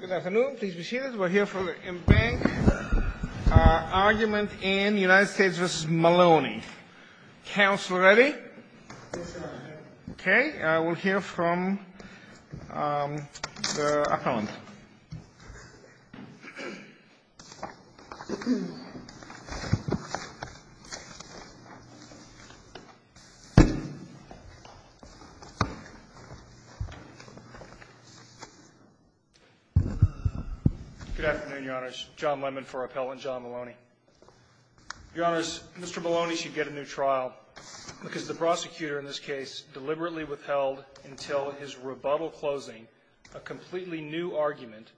Good afternoon. Please be seated. We're here for the embankment argument in United States v. Maloney. Counsel ready? Okay. I will hear from the appellant. Good afternoon, Your Honors. John Lemon for Appellant John Maloney. Your Honors, Mr. Maloney should get a new trial because the prosecutor in this case deliberately withheld until his rebuttal closing a completely new argument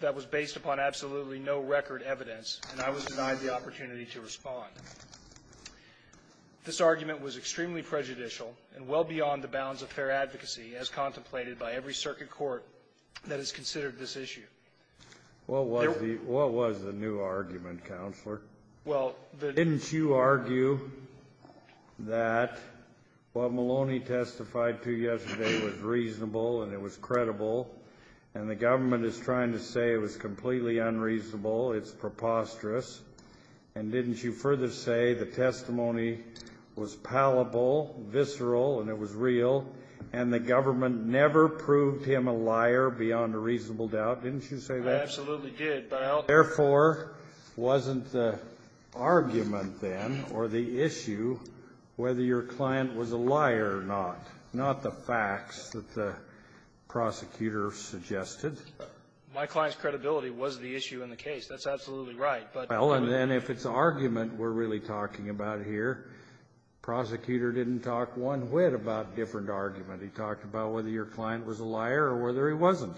that was based upon absolutely no record evidence, and I was denied the opportunity to respond. This argument was extremely prejudicial and well beyond the bounds of fair advocacy, as contemplated by every circuit court that has considered this issue. What was the new argument, Counselor? Well, the — Didn't you argue that what Maloney testified to yesterday was reasonable and it was credible, and the government is trying to say it was completely unreasonable, it's preposterous, and didn't you further say the testimony was palpable, visceral, and it was real, and the government never proved him a liar beyond a reasonable doubt? Didn't you say that? I absolutely did, but I'll — Therefore, wasn't the argument, then, or the issue whether your client was a liar or not, not the facts that the prosecutor suggested? My client's credibility was the issue in the case. That's absolutely right, but — Well, and then if it's argument we're really talking about here, prosecutor didn't talk one whit about different argument. He talked about whether your client was a liar or whether he wasn't.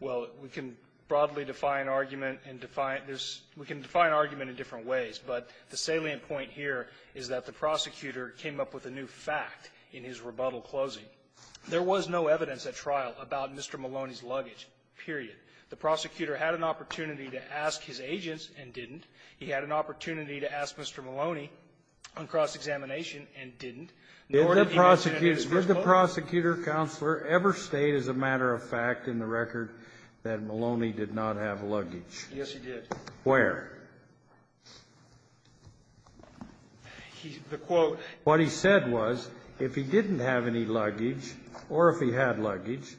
Well, we can broadly define argument and define — we can define argument in different ways, but the salient point here is that the prosecutor came up with a new fact in his rebuttal closing. There was no evidence at trial about Mr. Maloney's luggage, period. The prosecutor had an opportunity to ask his agents and didn't. He had an opportunity to ask Mr. Maloney on cross-examination and didn't. Did the prosecutor — Did the prosecutor-counselor ever state as a matter of fact in the record that Maloney did not have luggage? Yes, he did. Where? He — the quote — what he said was if he didn't have any luggage or if he had luggage,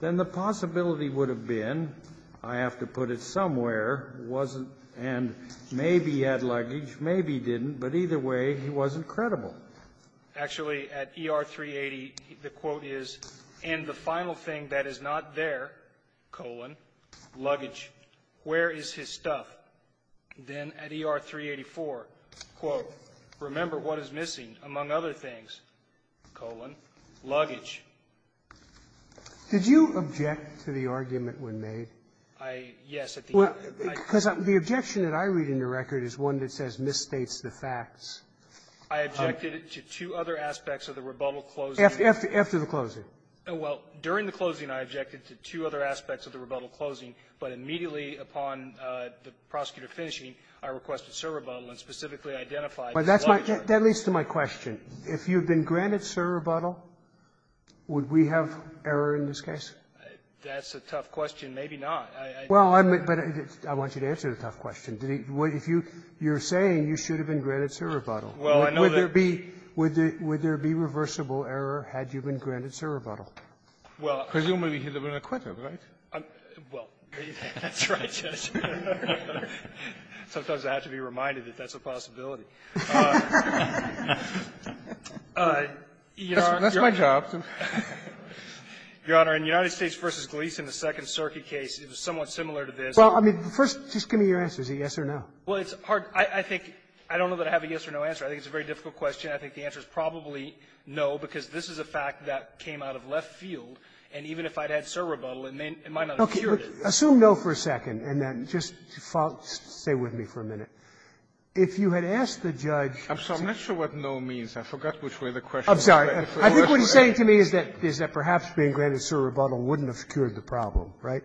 then the possibility would have been, I have to put it somewhere, wasn't — and maybe he had luggage, maybe he didn't, but either way, he wasn't credible. Actually, at ER-380, the quote is, and the final thing that is not there, colon, luggage, where is his stuff? Then at ER-384, quote, remember what is missing, among other things, colon, luggage. Did you object to the argument when made? I — yes, at the end, I — Because the objection that I read in the record is one that says misstates the facts. I objected to two other aspects of the rebuttal closing. After the closing. Well, during the closing, I objected to two other aspects of the rebuttal closing, but immediately upon the prosecutor finishing, I requested a server rebuttal and specifically identified — But that's my — that leads to my question. If you had been granted server rebuttal, would we have error in this case? That's a tough question. Maybe not. Well, I'm — but I want you to answer the tough question. Did he — if you — you're saying you should have been granted server rebuttal. Well, I know that — Would there be — would there be reversible error had you been granted server rebuttal? Well — Presumably he would have been acquitted, right? I'm — well, that's right, Judge. Sometimes I have to be reminded that that's a possibility. You know, Your Honor — That's my job. Your Honor, in United States v. Gleeson, the Second Circuit case, it was somewhat similar to this. Well, I mean, first, just give me your answer. Is it yes or no? Well, it's hard. I think — I don't know that I have a yes or no answer. I think it's a very difficult question. I think the answer is probably no, because this is a fact that came out of left field, and even if I'd had server rebuttal, it might not have cured it. Okay. Assume no for a second, and then just follow — stay with me for a minute. If you had asked the judge — I'm sorry. I'm not sure what no means. I forgot which way the question was. I'm sorry. I think what he's saying to me is that — is that perhaps being granted server rebuttal wouldn't have cured the problem, right?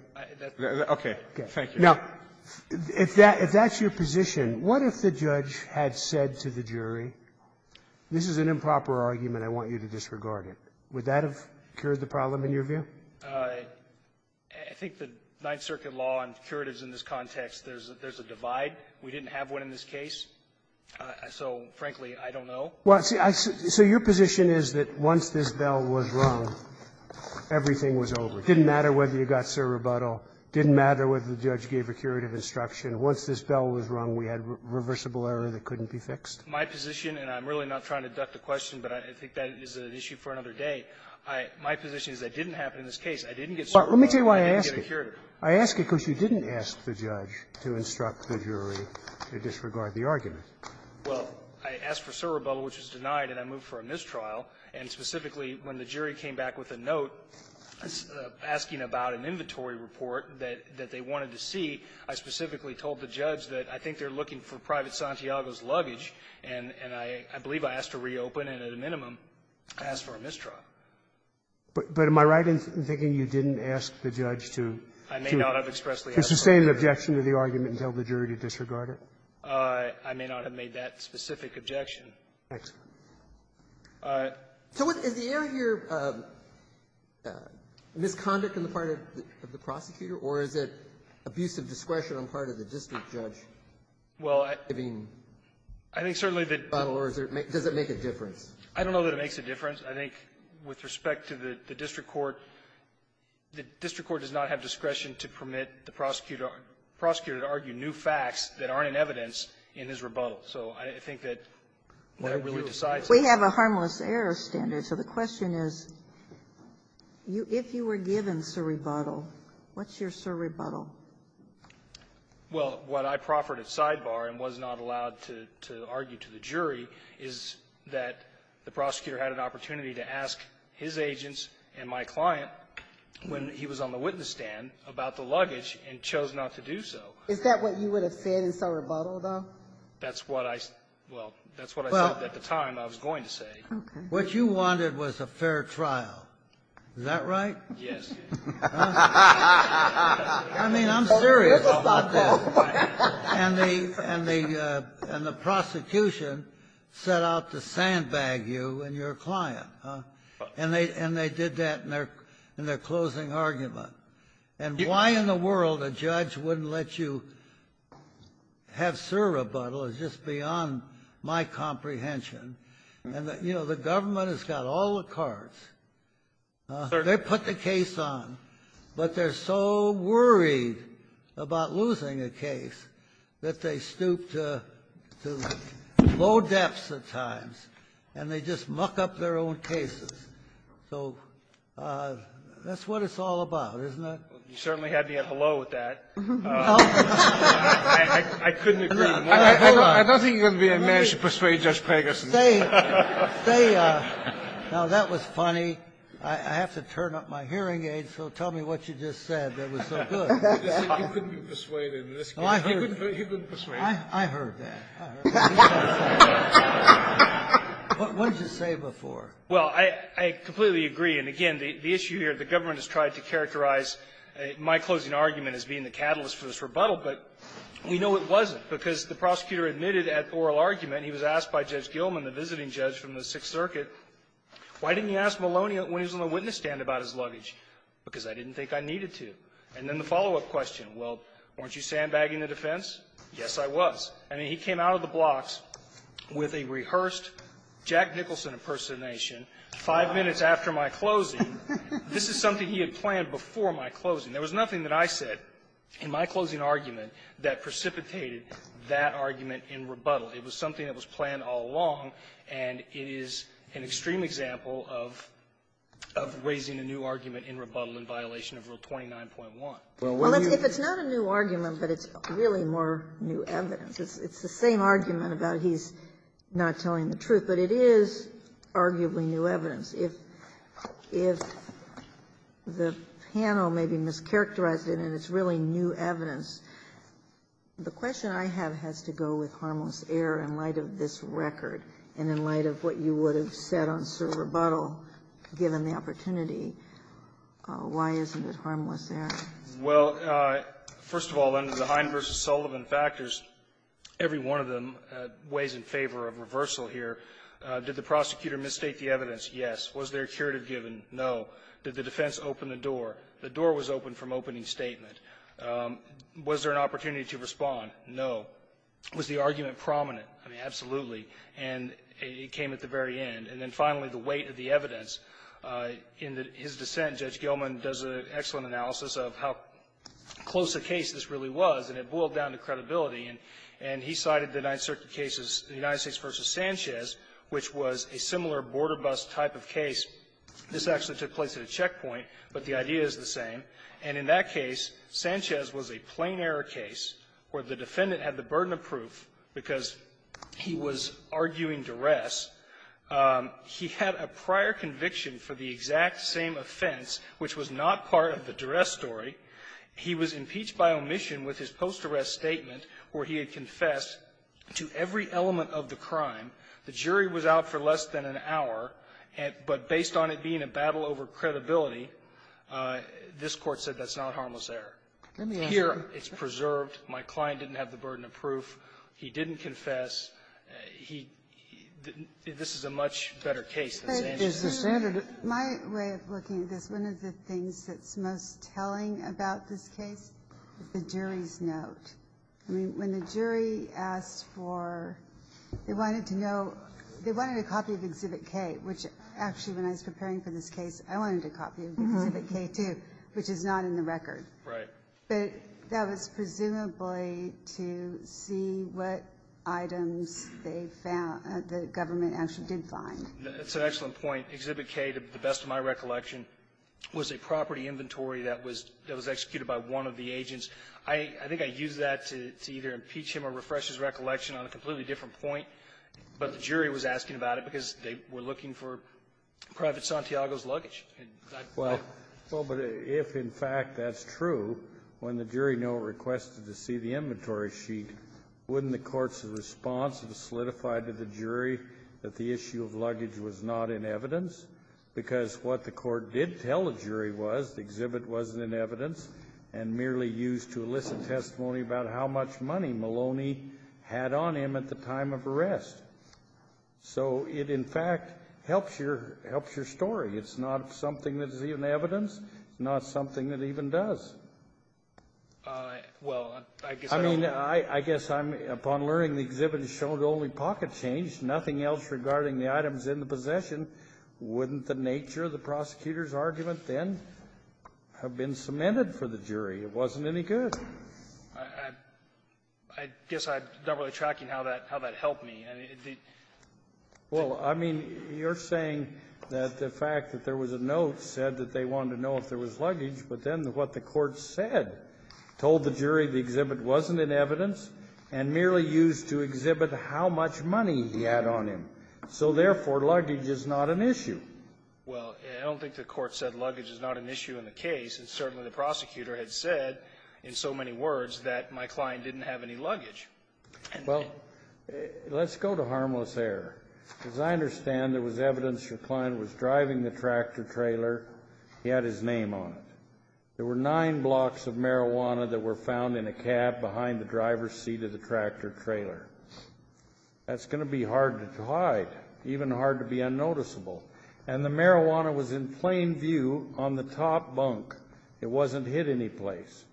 Okay. Thank you. Now, if that — if that's your position, what if the judge had said to the jury, this is an improper argument, I want you to disregard it? Would that have cured the problem, in your view? I think the Ninth Circuit law on curatives in this context, there's a divide. We didn't have one in this case, so, frankly, I don't know. Well, see, I — so your position is that once this bell was rung, everything was over. It didn't matter whether you got server rebuttal. It didn't matter whether the judge gave a curative instruction. Once this bell was rung, we had reversible error that couldn't be fixed. My position, and I'm really not trying to duck the question, but I think that is an issue for another day. I — my position is that didn't happen in this case. I didn't get server rebuttal. I didn't get a curative. I ask it because you didn't ask the judge to instruct the jury to disregard the argument. Well, I asked for server rebuttal, which was denied, and I moved for a mistrial. And specifically, when the jury came back with a note asking about an inventory report that — that they wanted to see, I specifically told the judge that I think they're looking for Private Santiago's luggage, and — and I believe I asked to reopen, and at a minimum, I asked for a mistrial. But — but am I right in thinking you didn't ask the judge to — I may not have expressly asked for a mistrial. — to sustain an objection to the argument and tell the jury to disregard it? I may not have made that specific objection. Thanks. So is the error here misconduct on the part of the prosecutor, or is it abusive discretion on the part of the district judge? Well, I — I mean, does it make a difference? I don't know that it makes a difference. I think with respect to the — the district court, the district court does not have discretion to permit the prosecutor to argue new facts that aren't in evidence in his rebuttal. So I think that that really decides it. We have a harmless error standard. So the question is, if you were given server rebuttal, what's your server rebuttal? Well, what I proffered at sidebar and was not allowed to argue to the jury is that the prosecutor had an opportunity to ask his agents and my client when he was on the witness stand about the luggage and chose not to do so. Is that what you would have said in server rebuttal, though? That's what I — well, that's what I said at the time I was going to say. Okay. What you wanted was a fair trial. Is that right? Yes. I mean, I'm serious about this. And the — and the — and the prosecution set out to sandbag you and your client. And they — and they did that in their — in their closing argument. And why in the world a judge wouldn't let you have server rebuttal is just beyond my comprehension. And, you know, the government has got all the cards. They put the case on, but they're so worried about losing a case that they stoop to low depths at times and they just muck up their own cases. So that's what it's all about, isn't it? You certainly had me at hello with that. I couldn't agree more. I don't think you're going to be able to persuade Judge Pegasin. Stay — stay — now, that was funny. I have to turn up my hearing aids, so tell me what you just said that was so good. You couldn't be persuaded in this case. He couldn't persuade you. I heard that. I heard that. What did you say before? Well, I — I completely agree. And, again, the issue here, the government has tried to characterize my closing argument as being the catalyst for this rebuttal, but we know it wasn't because the prosecutor admitted at oral argument — he was asked by Judge Gilman the day before the visiting judge from the Sixth Circuit, why didn't you ask Maloney when he was on the witness stand about his luggage? Because I didn't think I needed to. And then the follow-up question, well, weren't you sandbagging the defense? Yes, I was. I mean, he came out of the blocks with a rehearsed Jack Nicholson impersonation five minutes after my closing. This is something he had planned before my closing. in rebuttal. It was something that was planned all along, and it is an extreme example of raising a new argument in rebuttal in violation of Rule 29.1. Well, if it's not a new argument, but it's really more new evidence, it's the same argument about he's not telling the truth, but it is arguably new evidence. If the panel may be mischaracterized in it and it's really new evidence, the question I have has to go with harmless error in light of this record and in light of what you would have said on serve rebuttal given the opportunity, why isn't it harmless error? Well, first of all, under the Hind v. Sullivan factors, every one of them weighs in favor of reversal here. Did the prosecutor misstate the evidence? Yes. Was there a curative given? No. Did the defense open the door? The door was open from opening statement. Was there an opportunity to respond? No. Was the argument prominent? I mean, absolutely. And it came at the very end. And then finally, the weight of the evidence. In his dissent, Judge Gilman does an excellent analysis of how close a case this really was, and it boiled down to credibility. And he cited the Ninth Circuit cases, the United States v. Sanchez, which was a similar border bust type of case. This actually took place at a checkpoint, but the idea is the same. And in that case, Sanchez was a plain error case where the defendant had the burden of proof because he was arguing duress. He had a prior conviction for the exact same offense, which was not part of the duress story. He was impeached by omission with his post-arrest statement where he had confessed to every element of the crime. The jury was out for less than an hour, but based on it being a battle over credibility, this Court said that's not harmless error. Here, it's preserved. My client didn't have the burden of proof. He didn't confess. He — this is a much better case than Sanchez. But is the standard of — My way of looking at this, one of the things that's most telling about this case, the jury's note. I mean, when the jury asked for — they wanted to know — they wanted a copy of Exhibit K, which actually, when I was preparing for this case, I wanted a copy of Exhibit K, too, which is not in the record. Right. But that was presumably to see what items they found — the government actually did find. It's an excellent point. Exhibit K, to the best of my recollection, was a property inventory that was — that was executed by one of the agents. I think I used that to either impeach him or refresh his recollection on a completely different point. But the jury was asking about it because they were looking for Private Santiago's luggage. Well, but if, in fact, that's true, when the jury note requested to see the inventory sheet, wouldn't the Court's response have solidified to the jury that the issue of luggage was not in evidence? Because what the Court did tell the jury was the exhibit wasn't in evidence and merely used to elicit testimony about how much money Maloney had on him at the time of arrest. So it, in fact, helps your — helps your story. It's not something that is in evidence. It's not something that even does. Well, I guess I don't know. I mean, I guess I'm — upon learning the exhibit has shown only pocket change, nothing else regarding the items in the possession, wouldn't the nature of the prosecutor's argument then have been cemented for the jury? It wasn't any good. I guess I'm not really tracking how that helped me. Well, I mean, you're saying that the fact that there was a note said that they wanted to know if there was luggage, but then what the Court said, told the jury the exhibit wasn't in evidence and merely used to exhibit how much money he had on him. So, therefore, luggage is not an issue. Well, I don't think the Court said luggage is not an issue in the case. Certainly the prosecutor had said in so many words that my client didn't have any luggage. Well, let's go to harmless error. As I understand, there was evidence your client was driving the tractor-trailer. He had his name on it. There were nine blocks of marijuana that were found in a cab behind the driver's seat of the tractor-trailer. That's going to be hard to hide, even hard to be unnoticeable. And the marijuana was in plain view on the top bunk. It wasn't hid anyplace.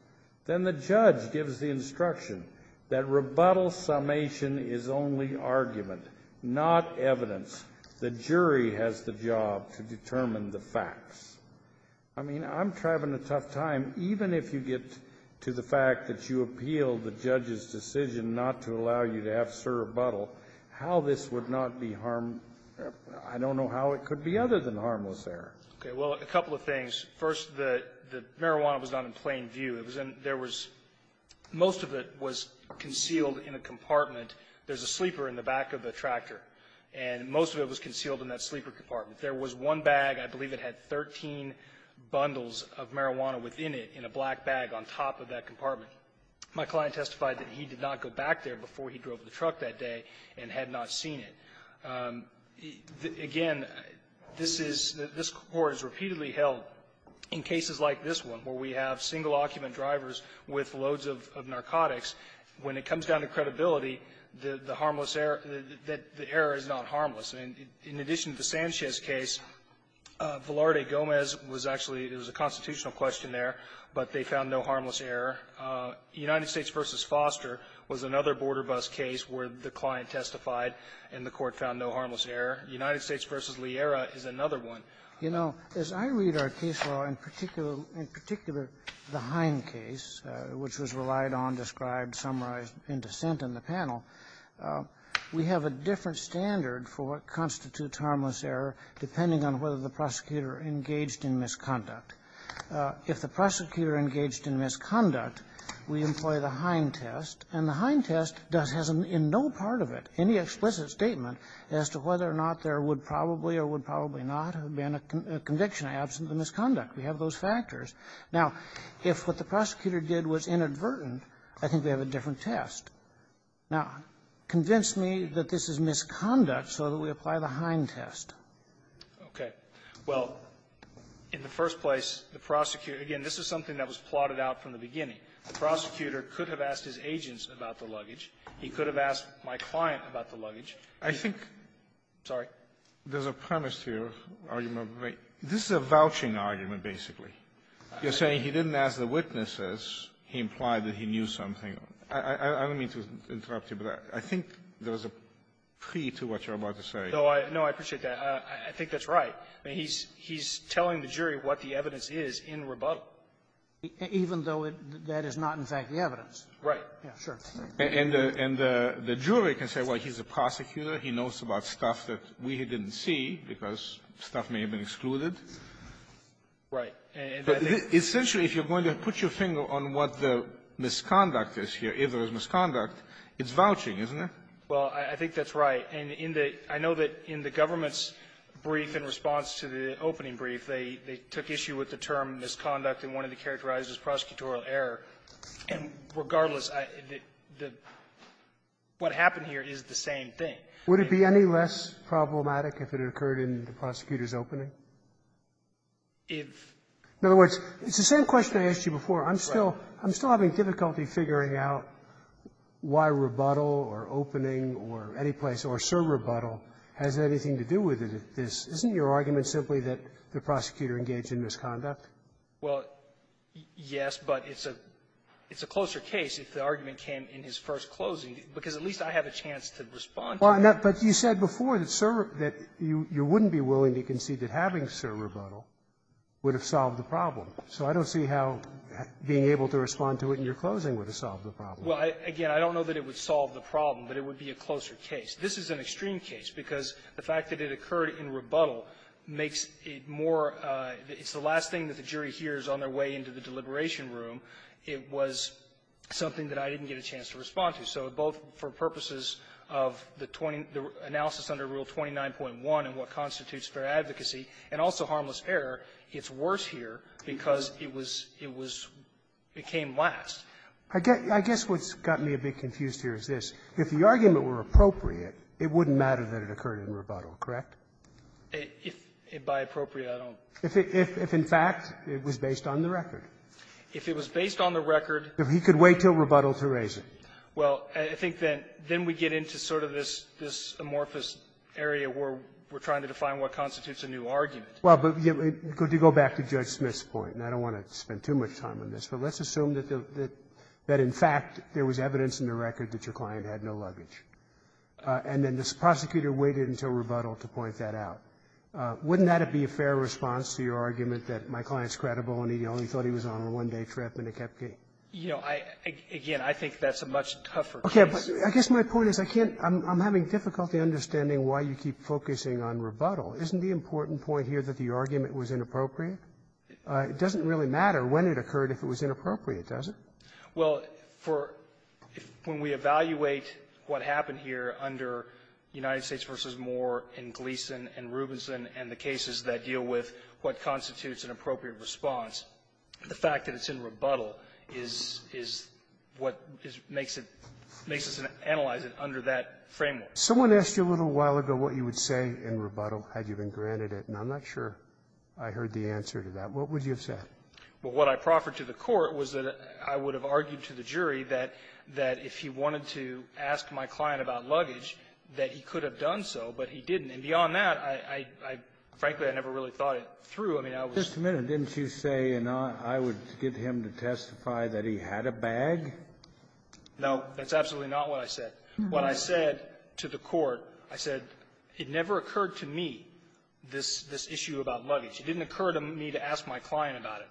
Then the judge gives the instruction that rebuttal summation is only argument, not evidence. The jury has the job to determine the facts. I mean, I'm having a tough time. Even if you get to the fact that you appealed the judge's decision not to allow you to have a rebuttal, how this would not be harm or I don't know how it could be other than harmless error. Okay. Well, a couple of things. First, the marijuana was not in plain view. It was in there was most of it was concealed in a compartment. There's a sleeper in the back of the tractor. And most of it was concealed in that sleeper compartment. There was one bag. I believe it had 13 bundles of marijuana within it in a black bag on top of that compartment. My client testified that he did not go back there before he drove the truck that day and had not seen it. Again, this is the score is repeatedly held in cases like this one where we have single occupant drivers with loads of narcotics. When it comes down to credibility, the harmless error, the error is not harmless. And in addition to the Sanchez case, Velarde Gomez was actually, it was a constitutional question there, but they found no harmless error. United States v. Foster was another border bus case where the client testified and the court found no harmless error. United States v. Liera is another one. You know, as I read our case law, in particular the Hine case, which was relied on, described, summarized in dissent in the panel, we have a different standard for what constitutes harmless error depending on whether the prosecutor engaged in misconduct. If the prosecutor engaged in misconduct, we employ the Hine test, and the Hine test does has in no part of it any explicit statement as to whether or not there would probably or would probably not have been a conviction absent the misconduct. We have those factors. Now, if what the prosecutor did was inadvertent, I think we have a different test. Now, convince me that this is misconduct so that we apply the Hine test. Okay. Well, in the first place, the prosecutor – again, this is something that was plotted out from the beginning. The prosecutor could have asked his agents about the luggage. He could have asked my client about the luggage. I think – Sorry? There's a premise to your argument, but this is a vouching argument, basically. You're saying he didn't ask the witnesses. He implied that he knew something. I don't mean to interrupt you, but I think there was a pre to what you're about to say. No, I appreciate that. I think that's right. I mean, he's telling the jury what the evidence is in rebuttal. Even though that is not, in fact, the evidence. Right. Yeah, sure. And the jury can say, well, he's a prosecutor. He knows about stuff that we didn't see because stuff may have been excluded. Right. Essentially, if you're going to put your finger on what the misconduct is here, if there is misconduct, it's vouching, isn't it? Well, I think that's right. And in the – I know that in the government's brief in response to the opening brief, they took issue with the term misconduct and wanted to characterize it as prosecutorial error. And regardless, the – what happened here is the same thing. Would it be any less problematic if it occurred in the prosecutor's opening? If – In other words, it's the same question I asked you before. Right. I'm still – I'm still having difficulty figuring out why rebuttal or opening or any place or serve rebuttal has anything to do with it. Isn't your argument simply that the prosecutor engaged in misconduct? Well, yes, but it's a – it's a closer case if the argument came in his first closing, because at least I have a chance to respond to it. Well, but you said before that serve – that you wouldn't be willing to concede that having serve rebuttal would have solved the problem. So I don't see how being able to respond to it in your closing would have solved the problem. Well, again, I don't know that it would solve the problem, but it would be a closer case. This is an extreme case because the fact that it occurred in rebuttal makes it more – it's the last thing that the jury hears on their way into the deliberation room. It was something that I didn't get a chance to respond to. So both for purposes of the 20 – the analysis under Rule 29.1 and what constitutes fair advocacy and also harmless error, it's worse here because it was – it was – it came last. I guess what's got me a bit confused here is this. If the argument were appropriate, it wouldn't matter that it occurred in rebuttal, correct? If by appropriate, I don't. If in fact it was based on the record. If it was based on the record. If he could wait till rebuttal to raise it. Well, I think that then we get into sort of this – this amorphous area where we're trying to define what constitutes a new argument. Well, but you go back to Judge Smith's point, and I don't want to spend too much time on this, but let's assume that – that in fact there was evidence in the record that your client had no luggage. And then this prosecutor waited until rebuttal to point that out. Wouldn't that be a fair response to your argument that my client's credible and he only thought he was on a one-day trip and he kept getting – You know, I – again, I think that's a much tougher case. Okay. But I guess my point is I can't – I'm having difficulty understanding why you keep focusing on rebuttal. Isn't the important point here that the argument was inappropriate? It doesn't really matter when it occurred if it was inappropriate, does it? Well, for – when we evaluate what happened here under United States v. Moore and Gleeson and Rubinson and the cases that deal with what constitutes an appropriate response, the fact that it's in rebuttal is – is what makes it – makes us analyze it under that framework. Someone asked you a little while ago what you would say in rebuttal had you been to the court. What would you have said? Well, what I proffered to the court was that I would have argued to the jury that if he wanted to ask my client about luggage, that he could have done so, but he didn't. And beyond that, I – I – frankly, I never really thought it through. I mean, I was – Just a minute. Didn't you say, you know, I would get him to testify that he had a bag? No. That's absolutely not what I said. When I said to the court, I said, it never occurred to me this – this issue about me to ask my client about it,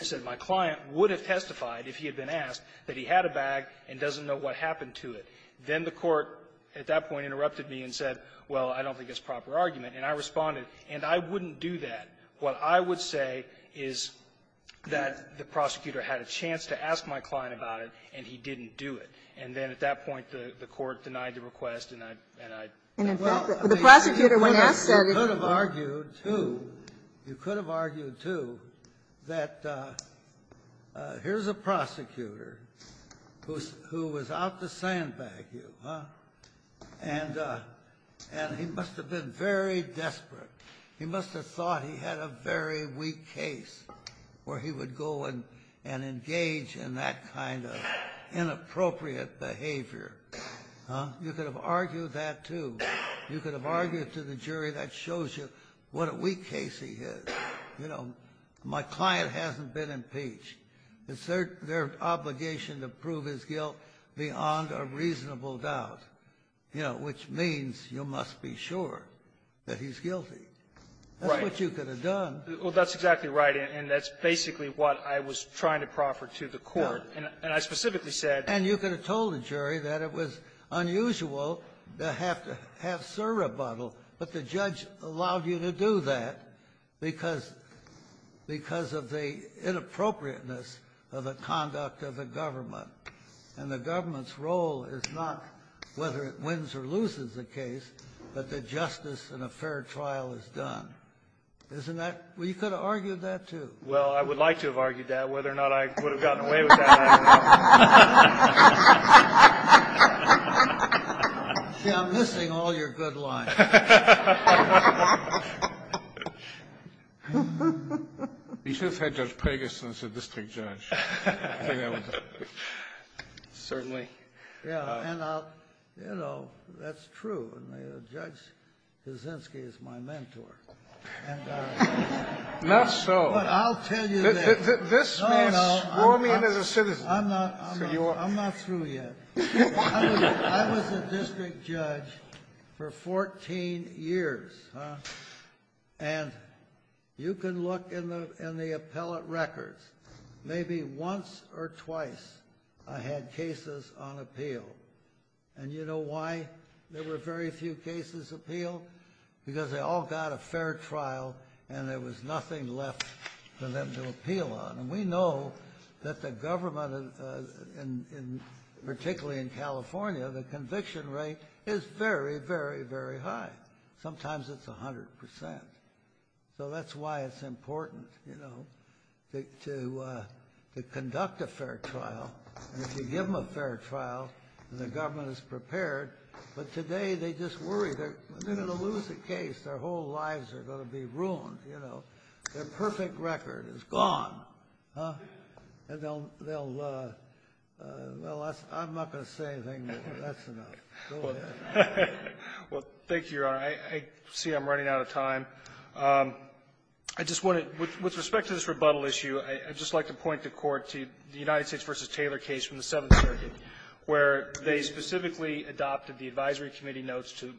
I said my client would have testified, if he had been asked, that he had a bag and doesn't know what happened to it. Then the court at that point interrupted me and said, well, I don't think it's proper argument, and I responded, and I wouldn't do that. What I would say is that the prosecutor had a chance to ask my client about it, and he didn't do it. And then at that point, the – the court denied the request, and I – and I – And, in fact, the prosecutor, when asked, said it wasn't. You could have argued, too, that here's a prosecutor who's – who was out to sandbag you, huh, and – and he must have been very desperate. He must have thought he had a very weak case where he would go and – and engage in that kind of inappropriate behavior, huh? You could have argued that, too. You could have argued to the jury, that shows you what a weak case he is. You know, my client hasn't been impeached. It's their – their obligation to prove his guilt beyond a reasonable doubt. You know, which means you must be sure that he's guilty. That's what you could have done. Well, that's exactly right. And that's basically what I was trying to proffer to the court. And I specifically said – And you could have told the jury that it was unusual to have to have sir rebuttal, but the judge allowed you to do that because – because of the inappropriateness of the conduct of the government. And the government's role is not whether it wins or loses the case, but that justice in a fair trial is done. Isn't that – well, you could have argued that, too. Well, I would like to have argued that. Whether or not I would have gotten away with that, I don't know. See, I'm missing all your good lines. You should have had Judge Pagason say, this takes Judge. I think that was – Certainly. Yeah. And I'll – you know, that's true. I mean, Judge Kaczynski is my mentor. And I – Not so. But I'll tell you that – I'm not – I'm not – I'm not – I'm not going to say that. I'm not – I'm not – I'm not through yet. I was a district judge for 14 years, and you can look in the appellate records. Maybe once or twice I had cases on appeal. And you know why there were very few cases appealed? Because they all got a fair trial and there was nothing left for them to appeal on. And we know that the government, and particularly in California, the conviction rate is very, very, very high. Sometimes it's 100 percent. So that's why it's important, you know, to conduct a fair trial. And if you give them a fair trial, and the government is prepared, but today they just worry they're going to lose the case. Their whole lives are going to be ruined, you know. Their perfect record is gone. Huh? And they'll — they'll — well, that's — I'm not going to say anything, but that's enough. Go ahead. Roberts. Well, thank you, Your Honor. I see I'm running out of time. I just want to — with respect to this rebuttal issue, I'd just like to point the Court to the United States v. Taylor case from the Seventh Circuit, where they specifically adopted the Advisory Committee notes to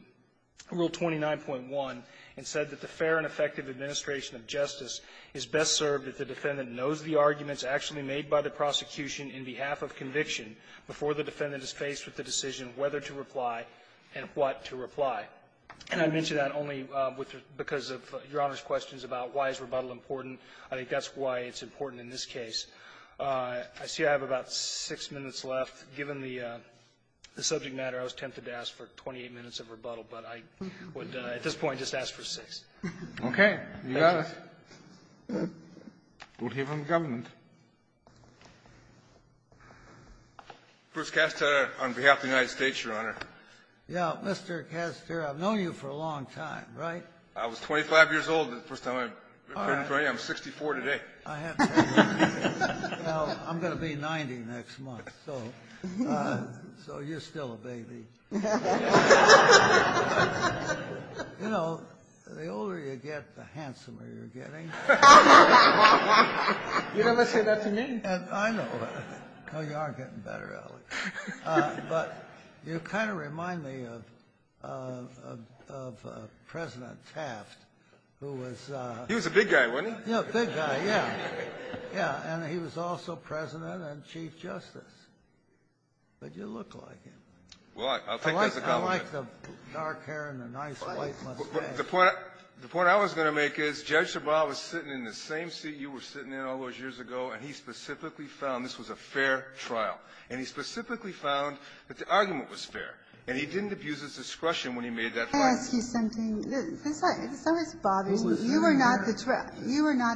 Rule 29.1 and said that the fair and effective administration of justice is best served if the defendant knows the arguments actually made by the prosecution in behalf of conviction before the defendant is faced with the decision whether to reply and what to reply. And I mention that only with — because of Your Honor's questions about why is rebuttal important. I think that's why it's important in this case. I see I have about six minutes left. Given the subject matter, I was tempted to ask for 28 minutes of rebuttal, but I would at this point just ask for six. Okay. Thank you. You got it. We'll hear from the government. Bruce Kastner on behalf of the United States, Your Honor. Yeah. Mr. Kastner, I've known you for a long time, right? I was 25 years old the first time I met you. I'm 64 today. I have to admit. Well, I'm going to be 90 next month, so you're still a baby. You know, the older you get, the handsomer you're getting. You never say that to me. I know. No, you are getting better, Ellie. But you kind of remind me of President Taft, who was — He was a big guy, wasn't he? Yeah, a big guy, yeah. Yeah. And he was also President and Chief Justice. But you look like him. Well, I'll take that as a compliment. I like the dark hair and the nice white mustache. The point I was going to make is, Judge Sebal was sitting in the same seat you were sitting in all those years ago, and he specifically found this was a fair trial. And he specifically found that the argument was fair. And he didn't abuse his discretion when he made that finding. Can I ask you something? This always bothers me. You were not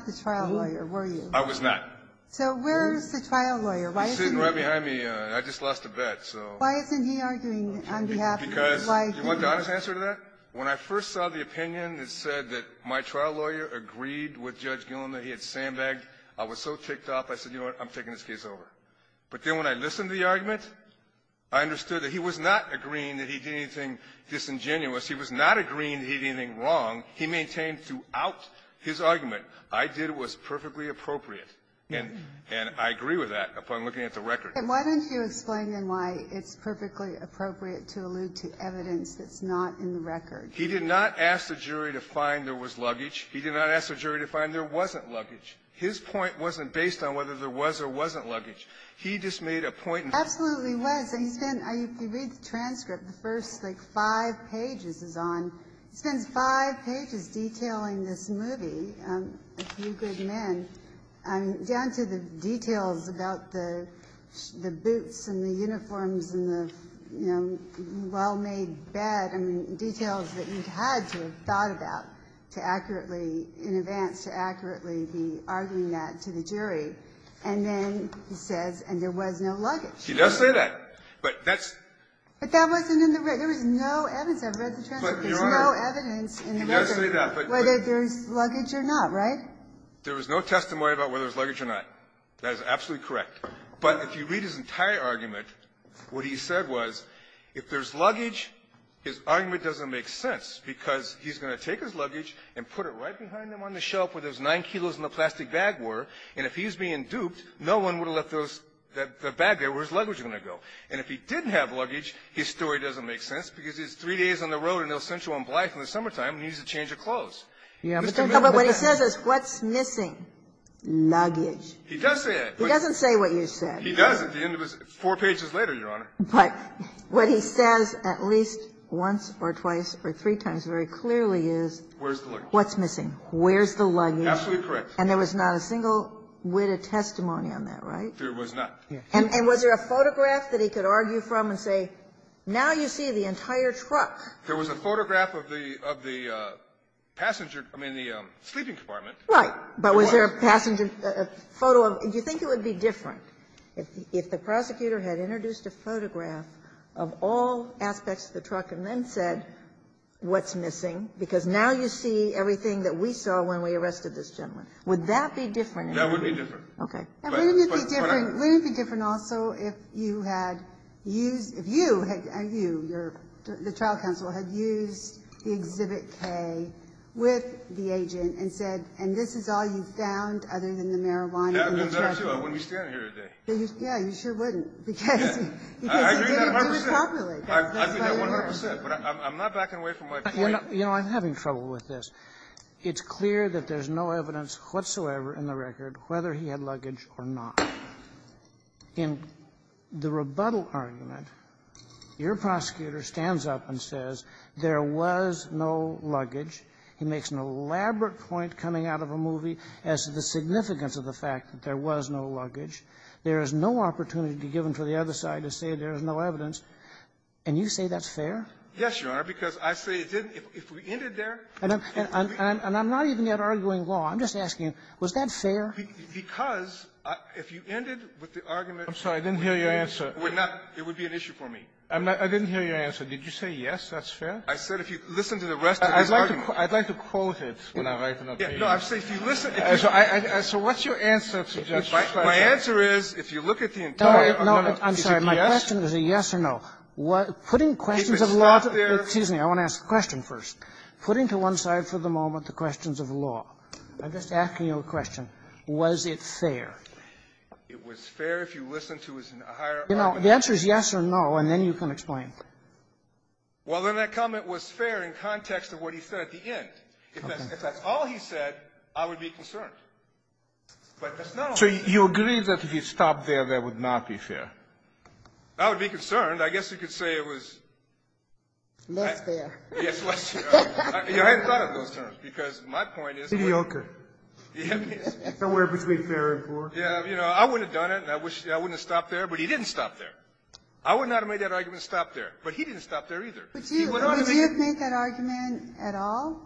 the trial lawyer, were you? I was not. So where is the trial lawyer? Why isn't he — He's sitting right behind me. I just lost a bet, so — Why isn't he arguing on behalf of — Because you want the honest answer to that? When I first saw the opinion that said that my trial lawyer agreed with Judge Gilliland that he had sandbagged, I was so ticked off, I said, you know what, I'm taking this case over. But then when I listened to the argument, I understood that he was not agreeing that he did anything disingenuous. He was not agreeing that he did anything wrong. He maintained throughout his argument, I did what was perfectly appropriate. And I agree with that upon looking at the record. And why don't you explain, then, why it's perfectly appropriate to allude to evidence that's not in the record? He did not ask the jury to find there was luggage. He did not ask the jury to find there wasn't luggage. His point wasn't based on whether there was or wasn't luggage. He just made a point — Absolutely was. And he spent — if you read the transcript, the first, like, five pages is on — he spends five pages detailing this movie, A Few Good Men, down to the details about the boots and the uniforms and the, you know, well-made bed, I mean, details that you had to have thought about to accurately, in advance, to accurately be arguing that to the jury. And then he says, and there was no luggage. He does say that. But that's — But that wasn't in the record. There was no evidence. I've read the transcript. There's no evidence in the record whether there's luggage or not, right? There was no testimony about whether there's luggage or not. That is absolutely correct. But if you read his entire argument, what he said was, if there's luggage, his argument doesn't make sense, because he's going to take his luggage and put it right behind him on the shelf where those nine kilos in the plastic bag were, and if he's being duped, no one would have left those — the bag there where his luggage was going to go. And if he didn't have luggage, his story doesn't make sense, because he's three days on the road in El Centro and Blythe in the summertime, and he needs a change of clothes. But what he says is, what's missing? Luggage. He does say it. He doesn't say what you said. He does at the end of his — four pages later, Your Honor. But what he says at least once or twice or three times very clearly is — Where's the luggage? What's missing? Where's the luggage? Absolutely correct. And there was not a single whit of testimony on that, right? There was not. And was there a photograph that he could argue from and say, now you see the entire truck? There was a photograph of the passenger — I mean, the sleeping compartment. Right. But was there a passenger — a photo of — do you think it would be different if the prosecutor had introduced a photograph of all aspects of the truck and then said, what's missing, because now you see everything that we saw when we arrested this gentleman? Would that be different? That would be different. Okay. Wouldn't it be different — wouldn't it be different also if you had used — if you had — you, your — the trial counsel had used the Exhibit K with the agent and said, and this is all you found other than the marijuana in the truck? Yeah. I wouldn't be standing here today. Yeah. You sure wouldn't because — Yeah. I agree 100 percent. I agree 100 percent. But I'm not backing away from my point. You know, I'm having trouble with this. It's clear that there's no evidence whatsoever in the record whether he had luggage or not. In the rebuttal argument, your prosecutor stands up and says there was no luggage. He makes an elaborate point coming out of a movie as to the significance of the fact that there was no luggage. There is no opportunity given to the other side to say there is no evidence. And you say that's fair? Yes, Your Honor, because I say it isn't. If we ended there — And I'm not even yet arguing law. I'm just asking, was that fair? Because if you ended with the argument — I'm sorry. I didn't hear your answer. It would be an issue for me. I didn't hear your answer. Did you say yes, that's fair? I said if you listen to the rest of the argument — I'd like to quote it when I write it up for you. Yeah. No, I'm saying if you listen — So what's your answer, Mr. Judge? My answer is if you look at the entire — No. No. I'm sorry. My question is a yes or no. Putting questions of law — Excuse me. I want to ask the question first. Putting to one side for the moment the questions of law, I'm just asking you a question. Was it fair? It was fair if you listened to his entire argument. You know, the answer is yes or no, and then you can explain. Well, then that comment was fair in context of what he said at the end. If that's all he said, I would be concerned. But that's not all he said. So you agree that if you stopped there, that would not be fair? I would be concerned. I guess you could say it was — Less fair. Yes, less fair. I hadn't thought of those terms, because my point is — Mediocre. Yeah. Somewhere between fair and poor. Yeah. You know, I wouldn't have done it, and I wish — I wouldn't have stopped there. But he didn't stop there. I wouldn't have made that argument and stopped there. But he didn't stop there either. Would you have made that argument at all?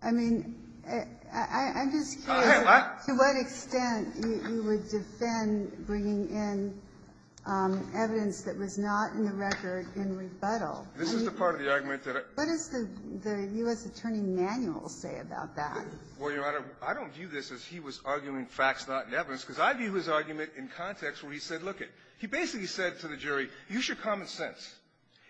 I mean, I'm just curious to what extent you would defend bringing in evidence that was not in the record in rebuttal. This is the part of the argument that I — What does the U.S. attorney manual say about that? Well, Your Honor, I don't view this as he was arguing facts, not evidence, because I view his argument in context where he said, lookit. He basically said to the jury, use your common sense.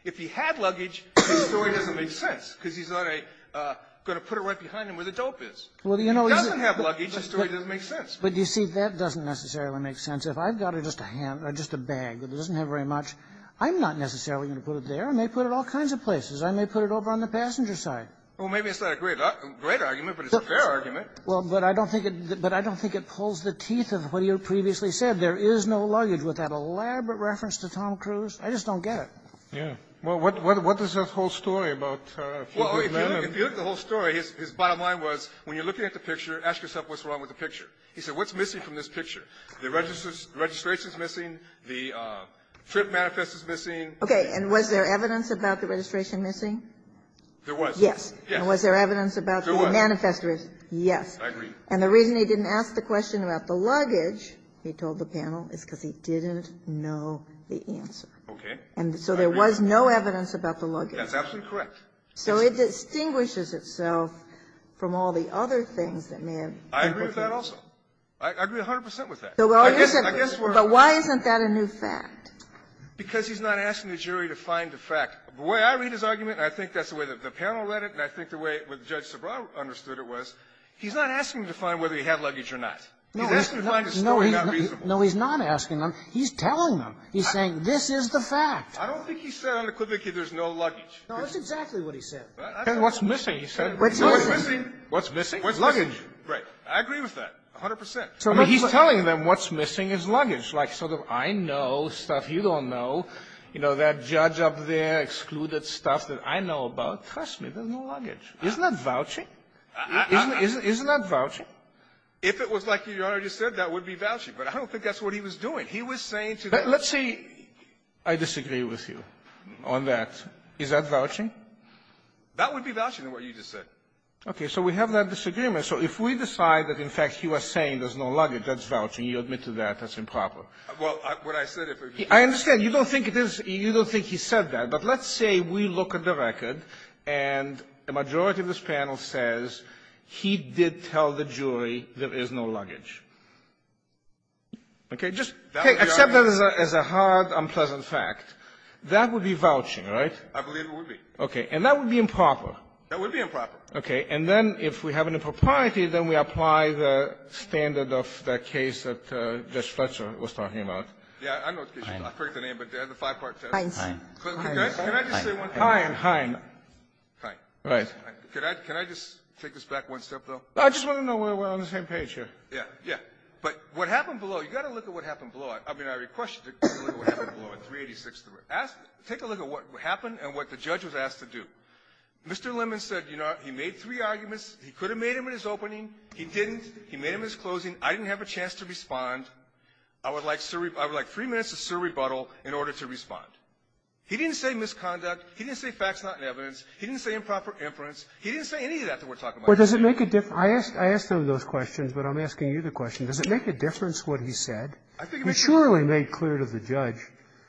If he had luggage, his story doesn't make sense, because he's not a — going to put it right behind him where the dope is. Well, you know — If he doesn't have luggage, his story doesn't make sense. But you see, that doesn't necessarily make sense. If I've got just a hand — or just a bag that doesn't have very much, I'm not necessarily going to put it there. I may put it all kinds of places. I may put it over on the passenger side. Well, maybe it's not a great argument, but it's a fair argument. Well, but I don't think it — but I don't think it pulls the teeth of what you previously said. There is no luggage. With that elaborate reference to Tom Cruise, I just don't get it. Yeah. Well, what does that whole story about — Well, if you look at the whole story, his bottom line was, when you're looking at the picture, ask yourself what's wrong with the picture. He said, what's missing from this picture? The registration is missing. The trip manifest is missing. Okay. And was there evidence about the registration missing? There was. Yes. Yes. And was there evidence about the manifest — There was. Yes. I agree. And the reason he didn't ask the question about the luggage, he told the panel, is because he didn't know the answer. Okay. And so there was no evidence about the luggage. Yes. Absolutely correct. So it distinguishes itself from all the other things that may have been put there. I agree with that also. I agree 100 percent with that. I guess we're — But why isn't that a new fact? Because he's not asking the jury to find the fact. The way I read his argument, and I think that's the way the panel read it, and I think the way Judge Sobral understood it was, he's not asking to find whether he had luggage or not. He's asking to find the story not reasonable. No, he's not asking them. He's telling them. He's saying, this is the fact. I don't think he said unequivocally there's no luggage. No, that's exactly what he said. What's missing, he said. What's missing? What's missing is luggage. Right. I agree with that 100 percent. I mean, he's telling them what's missing is luggage. Like, sort of, I know stuff you don't know. You know, that judge up there excluded stuff that I know about. Trust me, there's no luggage. Isn't that vouching? Isn't that vouching? If it was like Your Honor just said, that would be vouching. But I don't think that's what he was doing. He was saying to the — But let's say I disagree with you on that. Is that vouching? That would be vouching in what you just said. Okay. So we have that disagreement. So if we decide that, in fact, he was saying there's no luggage, that's vouching. You admit to that. That's improper. Well, what I said, if he — I understand. You don't think it is — you don't think he said that. But let's say we look at the record, and a majority of this panel says he did tell the jury there is no luggage. Okay? Just accept that as a hard, unpleasant fact. That would be vouching, right? I believe it would be. Okay. And that would be improper. That would be improper. Okay. And then if we have an impropriety, then we apply the standard of that case that Judge Fletcher was talking about. Yeah. I know the case. I forget the name, but the five-part test. Heinz. Heinz. Heinz. Heinz. Heinz. Heinz. Heinz. Heinz. Heinz. Heinz. Heinz. Heinz. Heinz. Heinz. Heinz. Heinz. Heinz. Heinz. Heinz. Mr. Lemmon said, you know, he made three arguments. He could have made them in his opening. He didn't. He made them in his closing. I didn't have a chance to respond. I would like three minutes to serve rebuttal in order to respond. He didn't say misconduct. He didn't say facts not in evidence. He didn't say improper inference. He didn't say any of that that we're talking about. Well, does it make a difference? I asked him those questions, but I'm asking you the question. Does it make a difference what he said? I think it makes a difference. He surely made clear to the judge.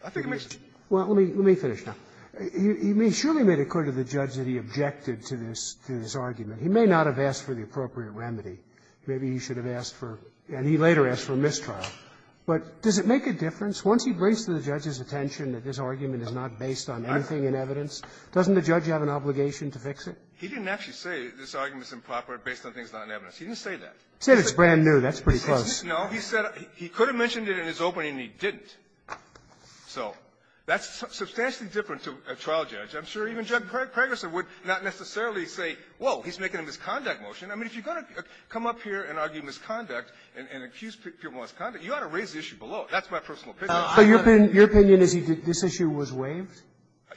I think it makes a difference. Well, let me finish now. He surely made it clear to the judge that he objected to this argument. He may not have asked for the appropriate remedy. Maybe he should have asked for and he later asked for a mistrial. But does it make a difference? Once he brings to the judge's attention that this argument is not based on anything in evidence, doesn't the judge have an obligation to fix it? He didn't actually say this argument is improper based on things not in evidence. He didn't say that. He said it's brand new. That's pretty close. No. He said he could have mentioned it in his opening, and he didn't. So that's substantially different to a trial judge. I'm sure even Judge Pregerson would not necessarily say, whoa, he's making a misconduct motion. I mean, if you're going to come up here and argue misconduct and accuse people of misconduct, you ought to raise the issue below. That's my personal opinion. So your opinion is this issue was waived?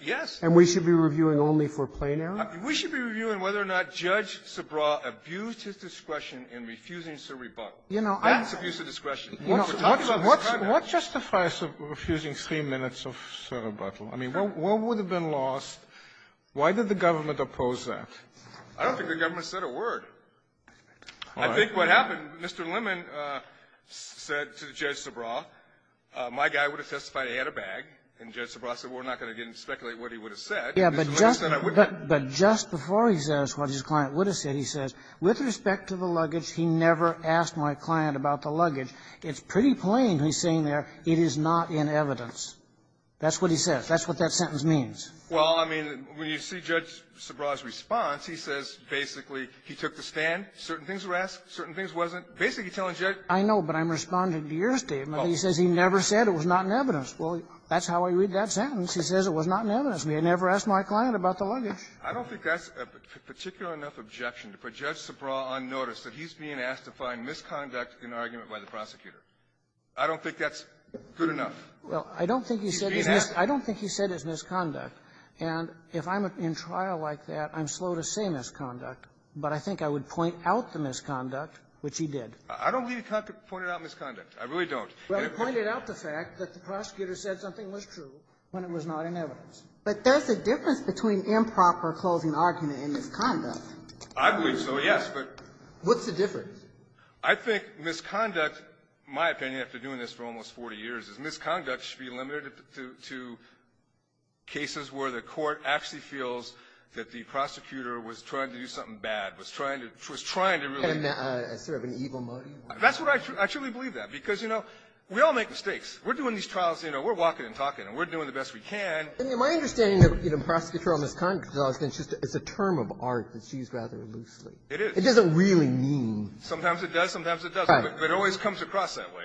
Yes. And we should be reviewing only for plain error? We should be reviewing whether or not Judge Subraw abused his discretion in refusing to rebut. That's abuse of discretion. What justifies refusing three minutes of rebuttal? I mean, what would have been lost? Why did the government oppose that? I don't think the government said a word. I think what happened, Mr. Lemon said to Judge Subraw, my guy would have testified he had a bag, and Judge Subraw said, we're not going to speculate what he would have said. But just before he says what his client would have said, he says, with respect to the luggage, he never asked my client about the luggage. It's pretty plain, he's saying there, it is not in evidence. That's what he says. That's what that sentence means. Well, I mean, when you see Judge Subraw's response, he says basically he took the stand, certain things were asked, certain things wasn't. Basically, he's telling Judge — I know, but I'm responding to your statement. He says he never said it was not in evidence. Well, that's how I read that sentence. He says it was not in evidence. He never asked my client about the luggage. I don't think that's a particular enough objection to put Judge Subraw on notice that he's being asked to find misconduct in an argument by the prosecutor. I don't think that's good enough. Well, I don't think he said it's misconduct. And if I'm in trial like that, I'm slow to say misconduct. But I think I would point out the misconduct, which he did. I don't believe he pointed out misconduct. I really don't. Well, he pointed out the fact that the prosecutor said something was true when it was not in evidence. But there's a difference between improper closing argument and misconduct. I believe so, yes, but — What's the difference? I think misconduct, my opinion after doing this for almost 40 years, is misconduct should be limited to cases where the court actually feels that the prosecutor was trying to do something bad, was trying to really — Sort of an evil motive? That's what I — I truly believe that. Because, you know, we all make mistakes. We're doing these trials, you know. We're walking and talking, and we're doing the best we can. My understanding of, you know, prosecutorial misconduct is that it's a term of art that's used rather loosely. It is. It doesn't really mean — Sometimes it does. Sometimes it doesn't. Right. But it always comes across that way.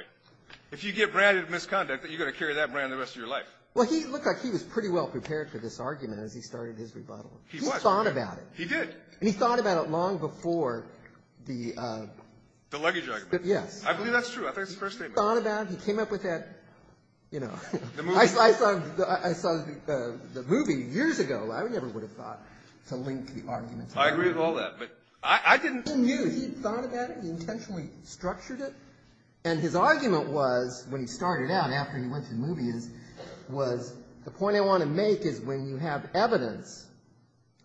If you get branded misconduct, you're going to carry that brand the rest of your life. Well, he looked like he was pretty well prepared for this argument as he started his rebuttal. He was. He thought about it. He did. And he thought about it long before the — The luggage argument. Yes. I believe that's true. I think that's his first statement. He thought about it. He came up with that, you know — The movie. I saw the movie years ago. I never would have thought to link the arguments. I agree with all that. But I didn't — He knew. He thought about it. He intentionally structured it. And his argument was, when he started out after he went to the movies, was, the point I want to make is when you have evidence,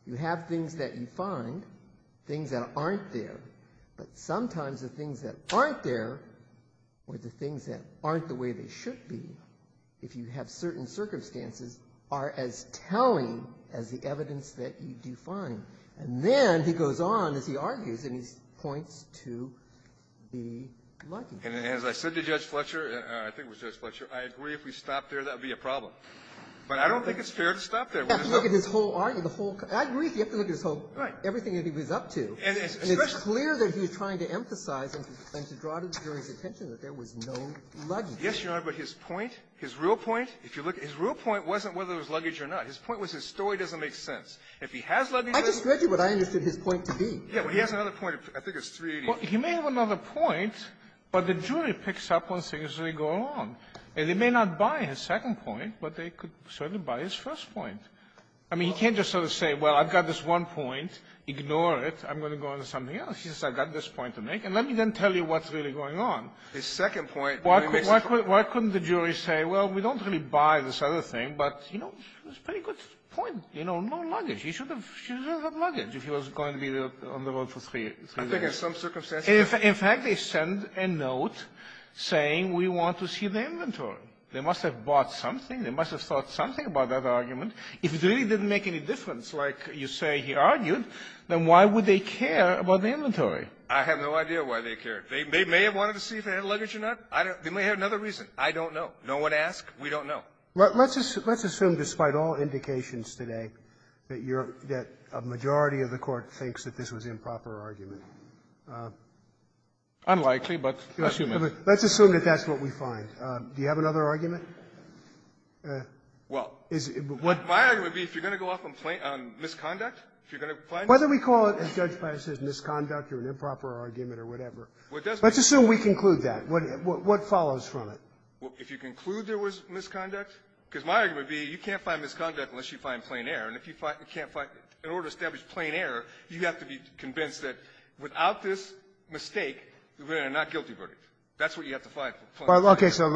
you have things that you find, things that aren't there, but sometimes the things that aren't there or the things that aren't the way they should be, if you have certain circumstances, are as telling as the evidence that you do find. And then he goes on as he argues, and he points to the luggage. And as I said to Judge Fletcher, I think it was Judge Fletcher, I agree if we stop there, that would be a problem. But I don't think it's fair to stop there. You have to look at his whole argument, the whole — I agree if you have to look at his whole — Right. Everything that he was up to. And it's clear that he was trying to emphasize and to draw the jury's attention that there was no luggage. Yes, Your Honor. But his point, his real point, if you look — his real point wasn't whether there was luggage or not. His point was his story doesn't make sense. If he has luggage — I just read you what I understood his point to be. Yeah. But he has another point. I think it's 388. Well, he may have another point, but the jury picks up on things as they go along. And they may not buy his second point, but they could certainly buy his first point. I mean, he can't just sort of say, well, I've got this one point. Ignore it. I'm going to go on to something else. He says, I've got this point to make. And let me then tell you what's really going on. His second point — Why couldn't the jury say, well, we don't really buy this other thing, but, you know, it's a pretty good point. You know, no luggage. He should have had luggage if he was going to be on the road for three days. I think in some circumstances — In fact, they send a note saying, we want to see the inventory. They must have bought something. They must have thought something about that argument. If it really didn't make any difference, like you say he argued, then why would they care about the inventory? I have no idea why they care. They may have wanted to see if they had luggage or not. They may have another reason. I don't know. No one asked. We don't know. Let's assume, despite all indications today, that you're — that a majority of the Court thinks that this was improper argument. Unlikely, but assume it. Let's assume that that's what we find. Do you have another argument? Well, my argument would be, if you're going to go off on misconduct, if you're Whether we call it, as Judge Fletcher says, misconduct or an improper argument or whatever. Let's assume we conclude that. What follows from it? If you conclude there was misconduct? Because my argument would be, you can't find misconduct unless you find plain error. And if you can't find — in order to establish plain error, you have to be convinced that without this mistake, we're in a not-guilty verdict. That's what you have to find. Okay. So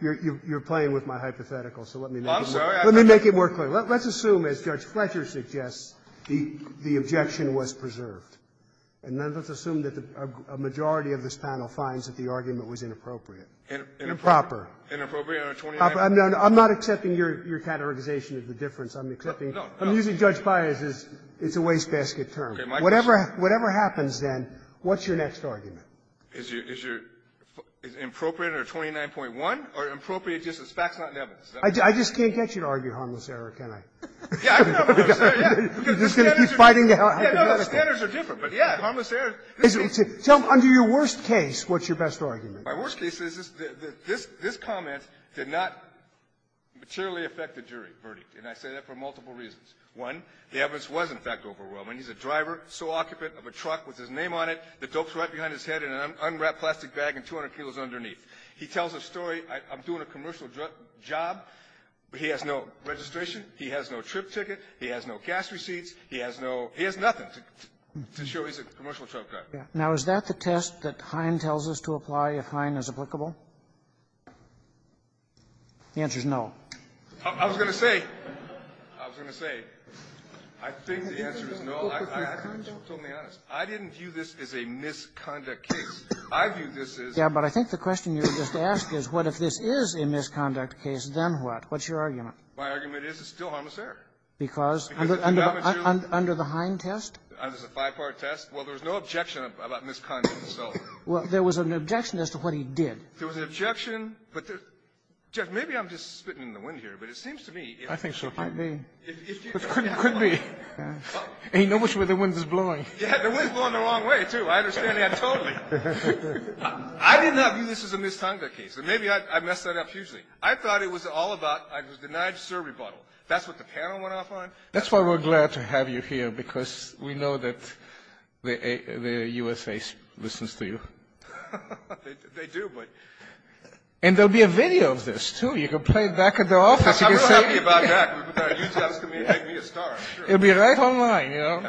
you're playing with my hypothetical. So let me make it more clear. I'm sorry. Let me make it more clear. Let's assume, as Judge Fletcher suggests, the objection was preserved. And then let's assume that a majority of this panel finds that the argument was inappropriate. Inappropriate? Inappropriate on a 29. I'm not accepting your categorization of the difference. I'm accepting — No. No. I'm using Judge Baez's it's-a-waste-basket term. Okay. My question — Whatever happens, then, what's your next argument? Is your — is it appropriate on a 29.1? Or appropriate just as facts, not in evidence? I just can't get you to argue harmless error, can I? Yeah, I know. I'm just going to keep fighting the hypothetical. Yeah, no, the standards are different. But, yeah, harmless error — Tell me, under your worst case, what's your best argument? My worst case is that this comment did not materially affect the jury verdict. And I say that for multiple reasons. One, the evidence was, in fact, overwhelming. He's a driver, so occupant, of a truck with his name on it that dopes right behind his head in an unwrapped plastic bag and 200 kilos underneath. He tells a story. I'm doing a commercial job, but he has no registration. He has no trip ticket. He has no cash receipts. He has no — he has nothing to show he's a commercial truck driver. Yeah. Now, is that the test that Hine tells us to apply if Hine is applicable? The answer is no. I was going to say — I was going to say, I think the answer is no. I think you should be totally honest. I didn't view this as a misconduct case. I view this as — Yeah, but I think the question you just asked is, what if this is a misconduct case, then what? What's your argument? My argument is it's still harmless error. Because? Under the Hine test? It's a five-part test. Well, there was no objection about misconduct, so — Well, there was an objection as to what he did. There was an objection, but — Judge, maybe I'm just spitting in the wind here, but it seems to me — I think so. It could be. It could be. Ain't no much where the wind is blowing. Yeah, the wind's blowing the wrong way, too. I understand that totally. I did not view this as a misconduct case. And maybe I messed that up hugely. I thought it was all about — I was denied a survey bottle. That's what the panel went off on? That's why we're glad to have you here, because we know that the USA listens to you. They do, but — And there'll be a video of this, too. You can play it back at their office. You can say — I'm not happy about that. It'll be right online, you know?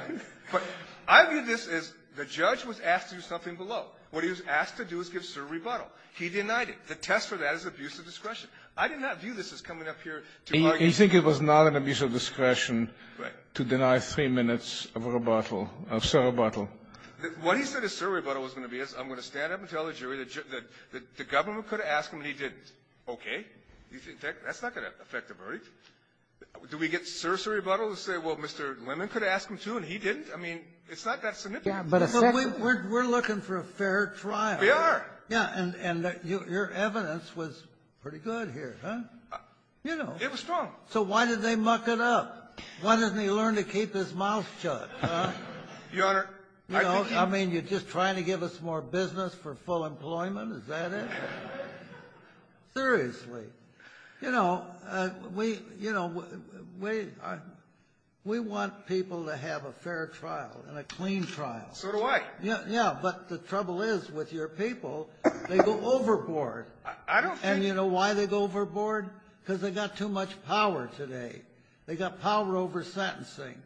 But I view this as the judge was asked to do something below. What he was asked to do is give a survey bottle. He denied it. The test for that is abuse of discretion. I did not view this as coming up here to argue — You think it was not an abuse of discretion — Right. — to deny three minutes of a bottle, of a survey bottle? What he said his survey bottle was going to be is, I'm going to stand up and tell the jury that the government could have asked him, and he didn't. Okay. That's not going to affect the verdict. Do we get sursery bottles that say, well, Mr. Lemon could have asked him, too, and he didn't? I mean, it's not that significant. Yeah, but a — But we're looking for a fair trial. We are. Yeah. And your evidence was pretty good here, huh? You know. It was strong. So why did they muck it up? Why doesn't he learn to keep his mouth shut, huh? Your Honor — You know, I mean, you're just trying to give us more business for full employment. Is that it? Seriously. You know, we — you know, we — we want people to have a fair trial and a clean trial. So do I. Yeah. But the trouble is with your people, they go overboard. I don't think — And you know why they go overboard? Because they got too much power today. They got power over sentencing.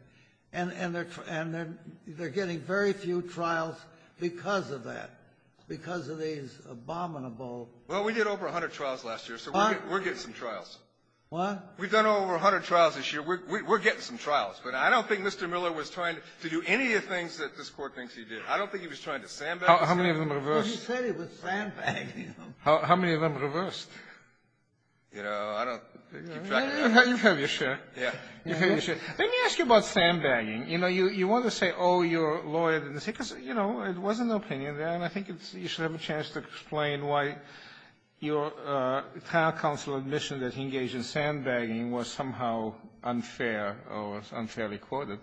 And they're getting very few trials because of that, because of these abominable — We're getting some trials. What? We've done over 100 trials this year. We're getting some trials. But I don't think Mr. Miller was trying to do any of the things that this Court thinks he did. I don't think he was trying to sandbag — How many of them reversed? Well, he said he was sandbagging them. How many of them reversed? You know, I don't — You've heard your share. Yeah. You've heard your share. Let me ask you about sandbagging. You know, you wanted to say, oh, your lawyer didn't say — because, you know, it wasn't an opinion there, and I think you should have a chance to explain why your trial counsel admission that he engaged in sandbagging was somehow unfair or was unfairly quoted.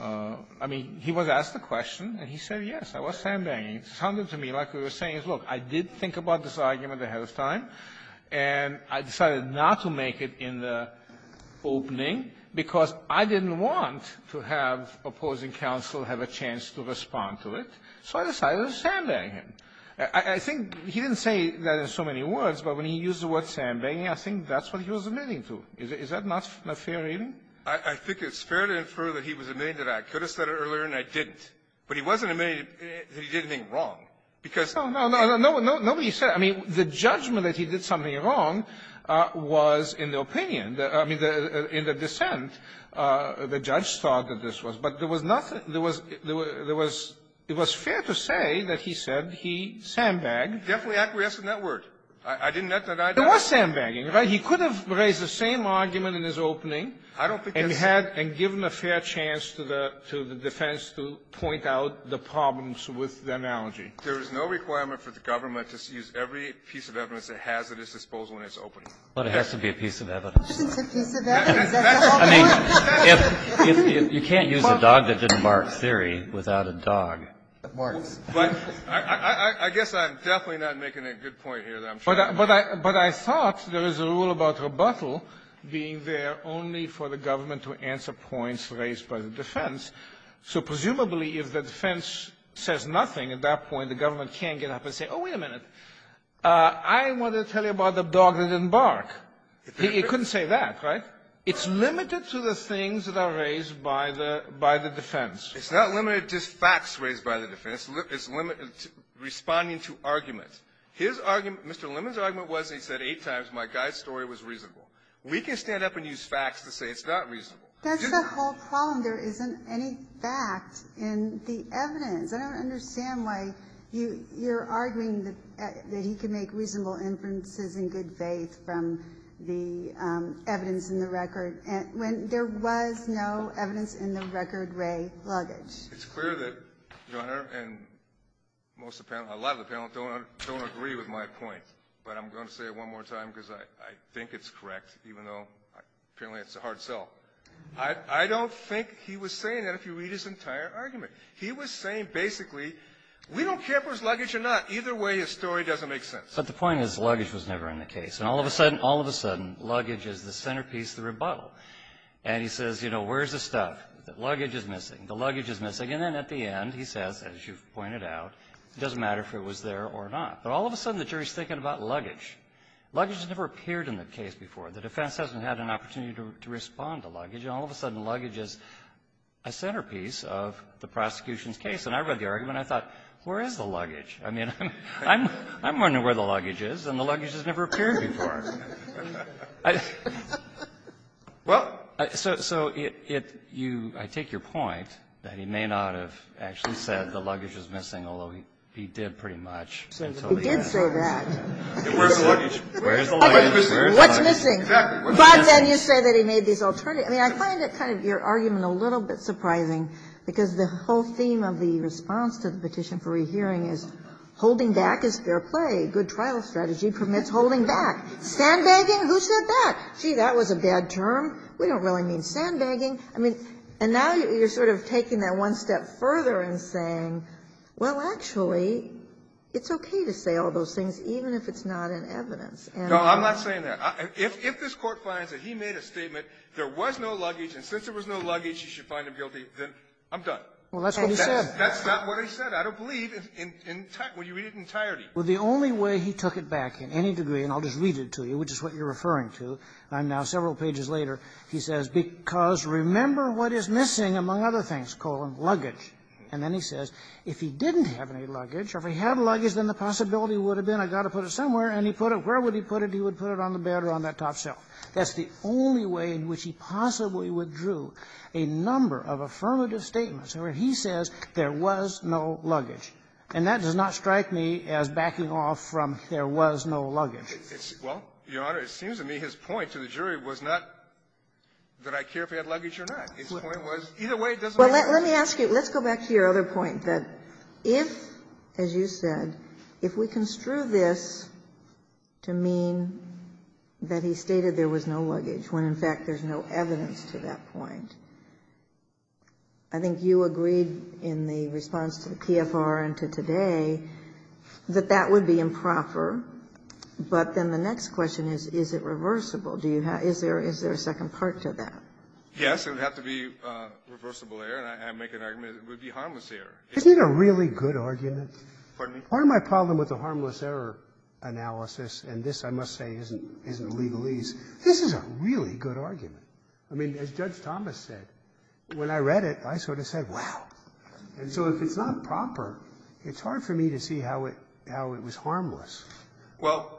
I mean, he was asked the question, and he said, yes, I was sandbagging. It sounded to me like what he was saying is, look, I did think about this argument ahead of time, and I decided not to make it in the opening because I didn't want to have opposing counsel have a chance to respond to it. So I decided to sandbag him. I think he didn't say that in so many words, but when he used the word sandbagging, I think that's what he was admitting to. Is that not a fair reading? I think it's fair to infer that he was admitting that I could have said it earlier, and I didn't. But he wasn't admitting that he did anything wrong because — No, no, no. Nobody said — I mean, the judgment that he did something wrong was in the opinion. I mean, in the dissent, the judge thought that this was — but there was nothing — there was — there was — it was fair to say that he said he sandbagged. Definitely acquiescing in that word. I didn't — There was sandbagging, right? He could have raised the same argument in his opening. I don't think that's — And had — and given a fair chance to the defense to point out the problems with the analogy. There is no requirement for the government to use every piece of evidence it has at its disposal in its opening. But it has to be a piece of evidence. It's a piece of evidence. I mean, if — you can't use a dog that didn't bark theory without a dog that barks. But I guess I'm definitely not making a good point here that I'm trying to make. But I thought there was a rule about rebuttal being there only for the government to answer points raised by the defense. So presumably, if the defense says nothing at that point, the government can't get up and say, oh, wait a minute, I want to tell you about the dog that didn't bark. It couldn't say that, right? It's limited to the things that are raised by the — by the defense. It's not limited to just facts raised by the defense. It's limited to responding to arguments. His argument — Mr. Lemon's argument was, and he said eight times, my guy's story was reasonable. We can stand up and use facts to say it's not reasonable. That's the whole problem. There isn't any fact in the evidence. I don't understand why you're arguing that he can make reasonable inferences in good faith from the evidence in the record when there was no evidence in the record Rae luggage. It's clear that Your Honor and most of the panel, a lot of the panel don't agree with my point. But I'm going to say it one more time because I think it's correct, even though apparently it's a hard sell. I don't think he was saying that if you read his entire argument. He was saying basically, we don't care if it was luggage or not. Either way, his story doesn't make sense. But the point is, luggage was never in the case. And all of a sudden, all of a sudden, luggage is the centerpiece of the rebuttal. And he says, you know, where's the stuff? The luggage is missing. The luggage is missing. And then at the end, he says, as you've pointed out, it doesn't matter if it was there or not. But all of a sudden, the jury's thinking about luggage. Luggage has never appeared in the case before. The defense hasn't had an opportunity to respond to luggage. And all of a sudden, luggage is a centerpiece of the prosecution's case. And I read the argument. I thought, where is the luggage? I mean, I'm wondering where the luggage is. And the luggage has never appeared before. Well, so it you – I take your point that he may not have actually said the luggage is missing, although he did pretty much. He did say that. Where's the luggage? Where's the luggage? What's missing? Exactly. What's missing? But then you say that he made these alternatives. I mean, I find that kind of your argument a little bit surprising, because the whole theme of the response to the Petition for Rehearing is holding back is fair play. Good trial strategy permits holding back. Sandbagging? Who said that? Gee, that was a bad term. We don't really mean sandbagging. I mean, and now you're sort of taking that one step further and saying, well, actually, it's okay to say all those things, even if it's not in evidence. No, I'm not saying that. If this Court finds that he made a statement, there was no luggage, and since there was no luggage, you should find him guilty, then I'm done. Well, that's what he said. That's not what he said. I don't believe in entirety. Well, you read it in entirety. Well, the only way he took it back in any degree, and I'll just read it to you, which is what you're referring to, and I'm now several pages later, he says, because remember what is missing, among other things, colon, luggage. And then he says, if he didn't have any luggage, or if he had luggage, then the possibility would have been, I've got to put it somewhere, and he put it, where would he put it? He would put it on the bed or on that top shelf. That's the only way in which he possibly withdrew a number of affirmative statements where he says there was no luggage, and that does not strike me as backing off from there was no luggage. Well, Your Honor, it seems to me his point to the jury was not that I care if he had luggage or not. His point was, either way, it doesn't matter. Well, let me ask you, let's go back to your other point, that if, as you said, if we stated there was no luggage, when in fact there's no evidence to that point, I think you agreed in the response to the PFR and to today that that would be improper. But then the next question is, is it reversible? Do you have to be, is there a second part to that? Yes, it would have to be reversible error, and I make an argument it would be harmless error. Isn't it a really good argument? Pardon me? Part of my problem with the harmless error analysis, and this I must say isn't legalese, this is a really good argument. I mean, as Judge Thomas said, when I read it, I sort of said, wow. And so if it's not proper, it's hard for me to see how it was harmless. Well,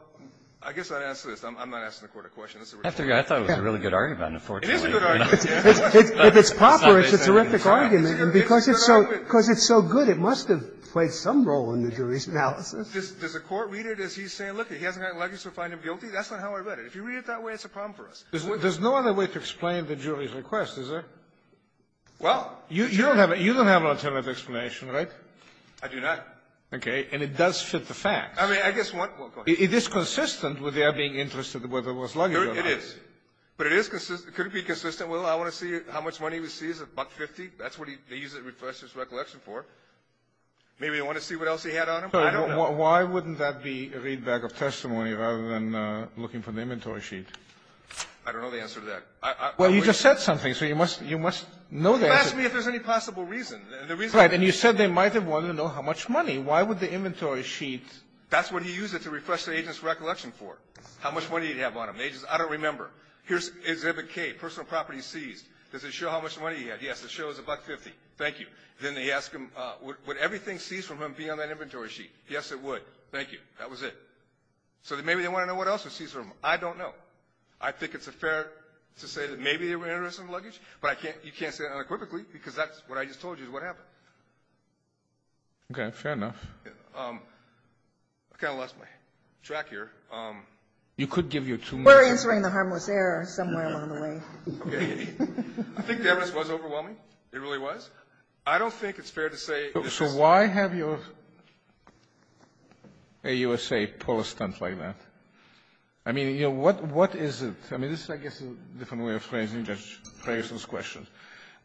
I guess I'd answer this. I'm not asking the Court a question. I thought it was a really good argument, unfortunately. It is a good argument. If it's proper, it's a terrific argument, and because it's so good, it must have played some role in the jury's analysis. Does the Court read it as he's saying, look, he hasn't got luggage to find him guilty? That's not how I read it. If you read it that way, it's a problem for us. There's no other way to explain the jury's request, is there? Well. You don't have an alternative explanation, right? I do not. Okay. And it does fit the facts. I mean, I guess one goes. It is consistent with their being interested whether it was luggage or not. It is. But it is consistent. Could it be consistent? Well, I want to see how much money he receives, $1.50. That's what they use it as recollection for. Maybe they want to see what else he had on him? I don't know. Why wouldn't that be a readback of testimony rather than looking for the inventory sheet? I don't know the answer to that. Well, you just said something, so you must know the answer. You asked me if there's any possible reason. Right. And you said they might have wanted to know how much money. Why would the inventory sheet? That's what he used it to refresh the agent's recollection for, how much money he'd have on him. The agent says, I don't remember. Here's exhibit K, personal property seized. Does it show how much money he had? Yes, it shows $1.50. Thank you. Then they ask him, would everything seized from him be on that inventory sheet? Yes, it would. Thank you. That was it. So maybe they want to know what else was seized from him. I don't know. I think it's fair to say that maybe they were interested in the luggage. But you can't say that unequivocally because that's what I just told you is what happened. Okay. Fair enough. I kind of lost my track here. You could give your two minutes. We're answering the harmless error somewhere along the way. Okay. I think the evidence was overwhelming. It really was. I don't think it's fair to say. So why have your AUSA pull a stunt like that? I mean, you know, what is it? I mean, this is, I guess, a different way of phrasing Judge Ferguson's question.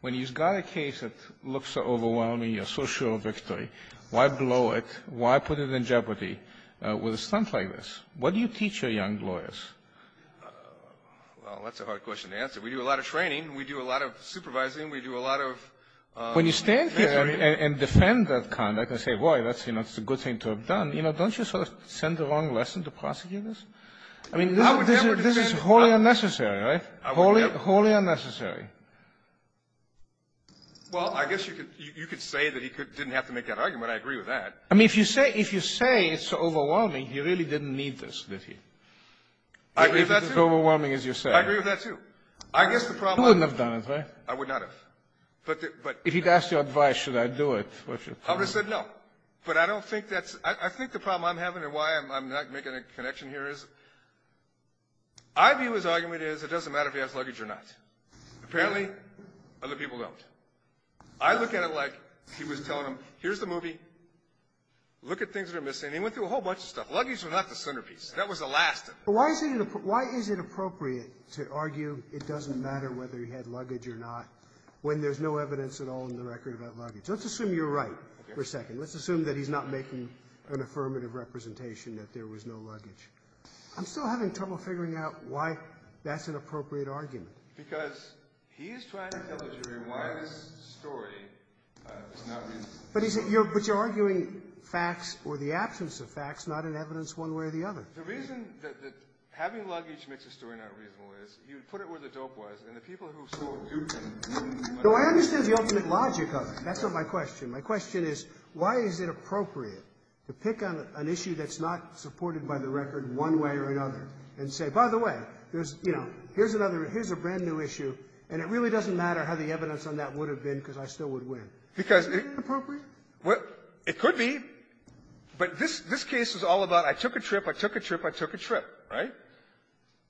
When you've got a case that looks so overwhelming, you're so sure of victory, why blow it? Why put it in jeopardy with a stunt like this? What do you teach your young lawyers? Well, that's a hard question to answer. We do a lot of training. We do a lot of supervising. When you stand here and defend that conduct and say, boy, that's a good thing to have done, you know, don't you sort of send the wrong lesson to prosecutors? I mean, this is wholly unnecessary, right? Wholly unnecessary. Well, I guess you could say that he didn't have to make that argument. I agree with that. I mean, if you say it's overwhelming, he really didn't need this, did he? I agree with that, too. If it's as overwhelming as you're saying. I agree with that, too. I guess the problem is you wouldn't have done it, right? I would not have. If he'd asked you advice, should I do it? I would have said no. But I don't think that's – I think the problem I'm having and why I'm not making a connection here is, I view his argument as it doesn't matter if he has luggage or not. Apparently, other people don't. I look at it like he was telling them, here's the movie, look at things that are missing. And he went through a whole bunch of stuff. Luggage was not the centerpiece. That was the last of it. But why is it appropriate to argue it doesn't matter whether he had luggage or not when there's no evidence at all in the record about luggage? Let's assume you're right for a second. Let's assume that he's not making an affirmative representation that there was no luggage. I'm still having trouble figuring out why that's an appropriate argument. Because he's trying to tell the jury why this story is not – But you're arguing facts or the absence of facts, not in evidence one way or the other. The reason that having luggage makes the story not reasonable is, you put it where the dope was, and the people who saw it – So I understand the ultimate logic of it. That's not my question. My question is, why is it appropriate to pick on an issue that's not supported by the record one way or another and say, by the way, here's another – here's a brand-new issue, and it really doesn't matter how the evidence on that would have been because I still would win. Isn't that appropriate? Well, it could be. But this case is all about, I took a trip. I took a trip. I took a trip, right?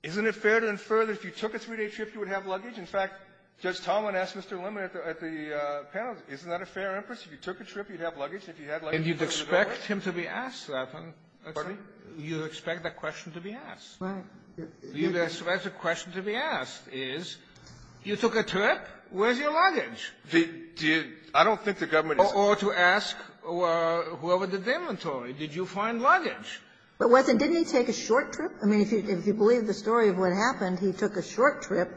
Isn't it fair to infer that if you took a three-day trip, you would have luggage? In fact, Judge Tomlin asked Mr. Lemon at the panel, isn't that a fair inference? If you took a trip, you'd have luggage. If you had luggage, you'd have a door. And you'd expect him to be asked that. Pardon me? You'd expect that question to be asked. Right. You'd expect the question to be asked is, you took a trip. Where's your luggage? The – I don't think the government is – Or to ask whoever did the inventory, did you find luggage? It wasn't. Didn't he take a short trip? I mean, if you believe the story of what happened, he took a short trip,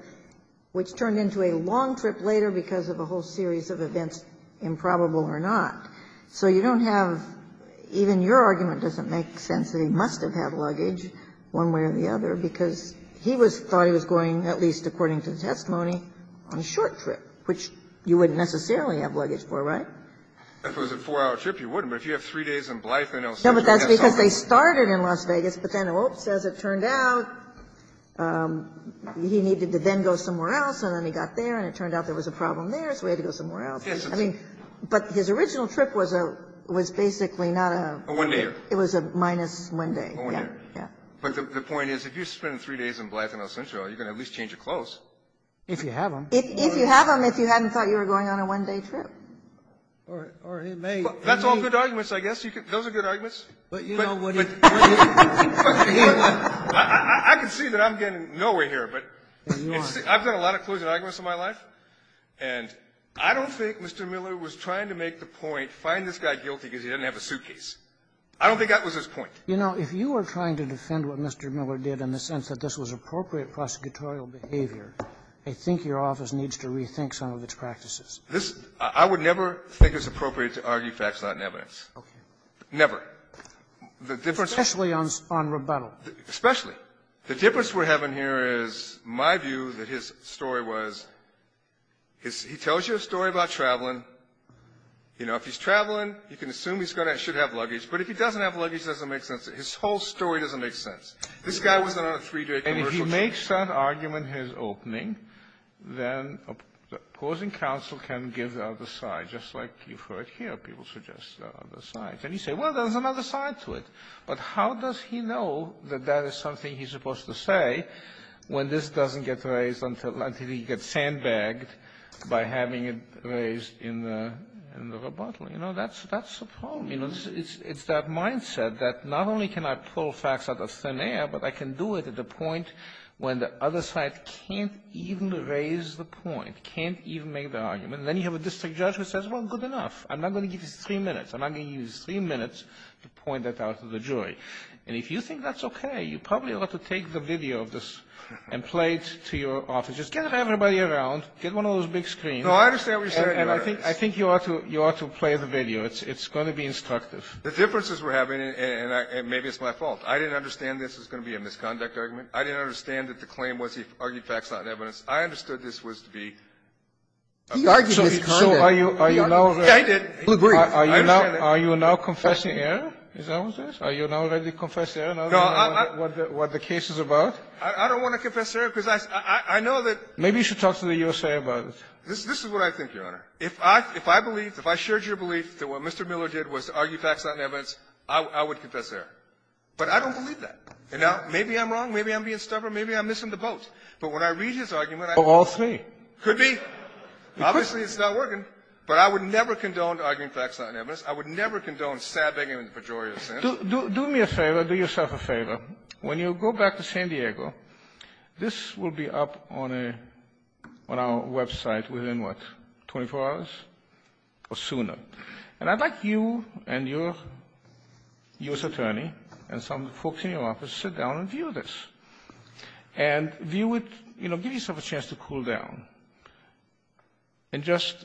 which turned into a long trip later because of a whole series of events, improbable or not. So you don't have – even your argument doesn't make sense that he must have had luggage one way or the other because he was – thought he was going, at least according to the testimony, on a short trip, which you wouldn't necessarily have luggage for, right? If it was a four-hour trip, you wouldn't. No, but that's because they started in Las Vegas, but then as it turned out, he needed to then go somewhere else, and then he got there, and it turned out there was a problem there, so he had to go somewhere else. Yes. I mean, but his original trip was a – was basically not a – A one-dayer. It was a minus one day. A one-dayer. Yeah. Yeah. But the point is, if you spend three days in Blyth and El Centro, you can at least change your clothes. If you have them. If you have them, if you hadn't thought you were going on a one-day trip. Or it may – That's all good arguments, I guess. Those are good arguments. But, you know, what if – I can see that I'm getting nowhere here, but I've done a lot of closing arguments in my life, and I don't think Mr. Miller was trying to make the point, find this guy guilty because he doesn't have a suitcase. I don't think that was his point. You know, if you were trying to defend what Mr. Miller did in the sense that this was appropriate prosecutorial behavior, I think your office needs to rethink some of its practices. This – I would never think it's appropriate to argue facts not in evidence. Okay. Never. Especially on rebuttal. Especially. The difference we're having here is my view that his story was – he tells you a story about traveling. You know, if he's traveling, you can assume he's going to – should have luggage. But if he doesn't have luggage, it doesn't make sense. His whole story doesn't make sense. This guy was on a three-day commercial trip. If he makes that argument his opening, then opposing counsel can give the other side. Just like you've heard here, people suggest the other side. And you say, well, there's another side to it. But how does he know that that is something he's supposed to say when this doesn't get raised until – until he gets sandbagged by having it raised in the – in the rebuttal? You know, that's – that's the problem. You know, it's that mindset that not only can I pull facts out of thin air, but I can do it at the point when the other side can't even raise the point, can't even make the argument. And then you have a district judge who says, well, good enough. I'm not going to give you three minutes. I'm not going to give you three minutes to point that out to the jury. And if you think that's okay, you probably ought to take the video of this and play it to your office. Just get everybody around. Get one of those big screens. No, I understand what you're saying, Your Honor. And I think – I think you ought to – you ought to play the video. It's going to be instructive. The differences we're having – and maybe it's my fault. I didn't understand this was going to be a misconduct argument. I didn't understand that the claim was he argued facts, not evidence. I understood this was to be a – He argued misconduct. So are you – Yeah, he did. He agreed. I understand that. Are you now – are you now confessing error? Is that what it is? Are you now ready to confess error now that you know what the case is about? I don't want to confess error because I – I know that – Maybe you should talk to the U.S.A. about it. This is what I think, Your Honor. If I – if I believed – if I shared your belief that what Mr. Miller did was to argue facts, not evidence, I would confess error. But I don't believe that. You know? Maybe I'm wrong. Maybe I'm being stubborn. Maybe I'm missing the boat. But when I read his argument, I – Of all three. Could be. Obviously, it's not working. But I would never condone arguing facts, not evidence. I would never condone sad-begging in the pejorative sense. Do me a favor. Do yourself a favor. When you go back to San Diego, this will be up on a – on our website within, what, 24 hours or sooner. And I'd like you and your U.S. attorney and some folks in your office to sit down and view this. And view it – you know, give yourself a chance to cool down. And just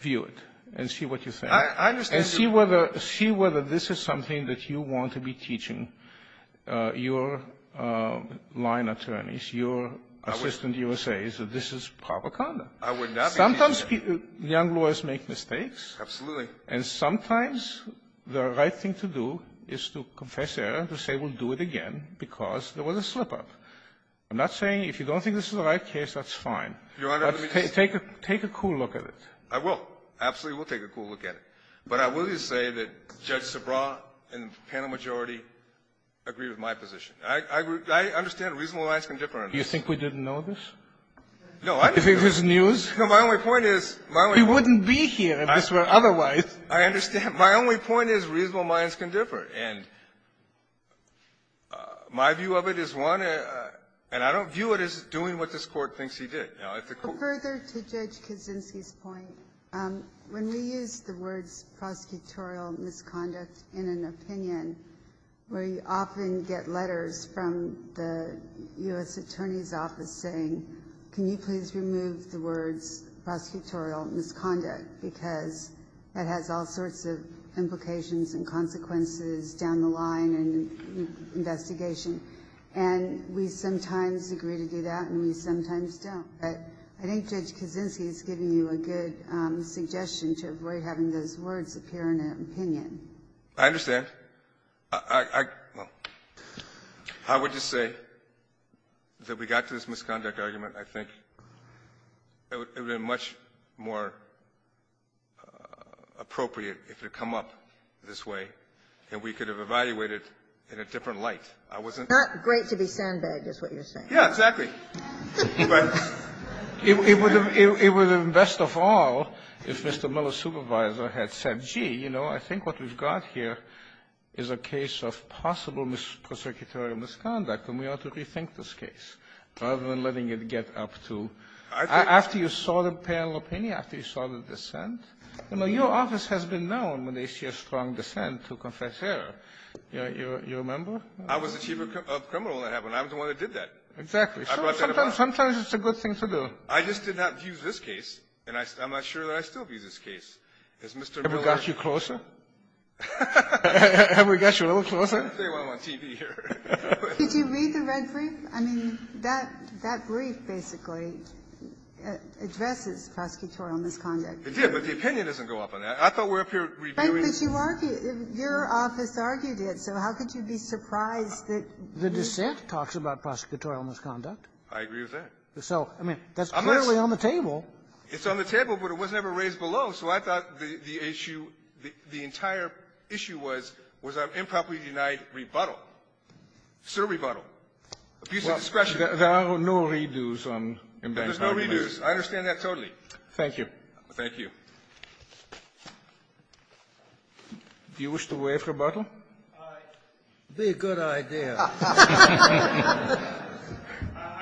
view it and see what you think. I understand your – And see whether – see whether this is something that you want to be teaching your line attorneys, your assistant U.S.A.s, that this is proper conduct. I would not be – Sometimes young lawyers make mistakes. Absolutely. And sometimes the right thing to do is to confess error, to say we'll do it again because there was a slip-up. I'm not saying – if you don't think this is the right case, that's fine. Your Honor, let me just – But take a – take a cool look at it. I will. Absolutely, we'll take a cool look at it. But I will just say that Judge Sabra and the panel majority agree with my position. I – I – I understand reasonable rights can differ. Do you think we didn't know this? No, I didn't know this. Do you think this is news? My only point is – We wouldn't be here if this were otherwise. I understand. My only point is reasonable minds can differ. And my view of it is one, and I don't view it as doing what this Court thinks he did. Now, if the – Further to Judge Kaczynski's point, when we use the words prosecutorial misconduct in an opinion, we often get letters from the U.S. Attorney's Office saying, can you please remove the words prosecutorial misconduct, because it has all sorts of implications and consequences down the line and investigation. And we sometimes agree to do that and we sometimes don't. But I think Judge Kaczynski is giving you a good suggestion to avoid having those words appear in an opinion. I understand. I – well, I would just say that we got to this misconduct argument, I think, it would have been much more appropriate if it had come up this way and we could have evaluated in a different light. I wasn't – Not great to be sandbagged is what you're saying. Yeah, exactly. But it would have been best of all if Mr. Miller's supervisor had said, gee, you know, this is a case of possible prosecutorial misconduct and we ought to rethink this case rather than letting it get up to – after you saw the panel opinion, after you saw the dissent. You know, your office has been known when they see a strong dissent to confess error. You remember? I was the chief of criminal at that point. I was the one that did that. Exactly. I brought that about. Sometimes it's a good thing to do. I just did not view this case, and I'm not sure that I still view this case. Has Mr. Miller – Ever got you closer? Ever got you a little closer? I'm going to stay while I'm on TV here. Could you read the red brief? I mean, that – that brief basically addresses prosecutorial misconduct. It did, but the opinion doesn't go up on that. I thought we're up here reviewing – But you argue – your office argued it, so how could you be surprised that – The dissent talks about prosecutorial misconduct. I agree with that. So, I mean, that's clearly on the table. It's on the table, but it wasn't ever raised below. So I thought the issue – the entire issue was, was an improperly denied rebuttal. It's still a rebuttal. A piece of discretion. There are no re-do's on – There's no re-do's. I understand that totally. Thank you. Thank you. Do you wish to waive rebuttal? Aye. Be a good idea. I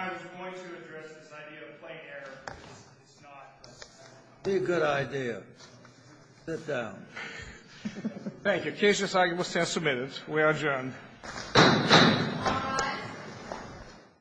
was going to address this idea of plain error, but it's not. Be a good idea. Sit down. Thank you. The case has now been submitted. We are adjourned.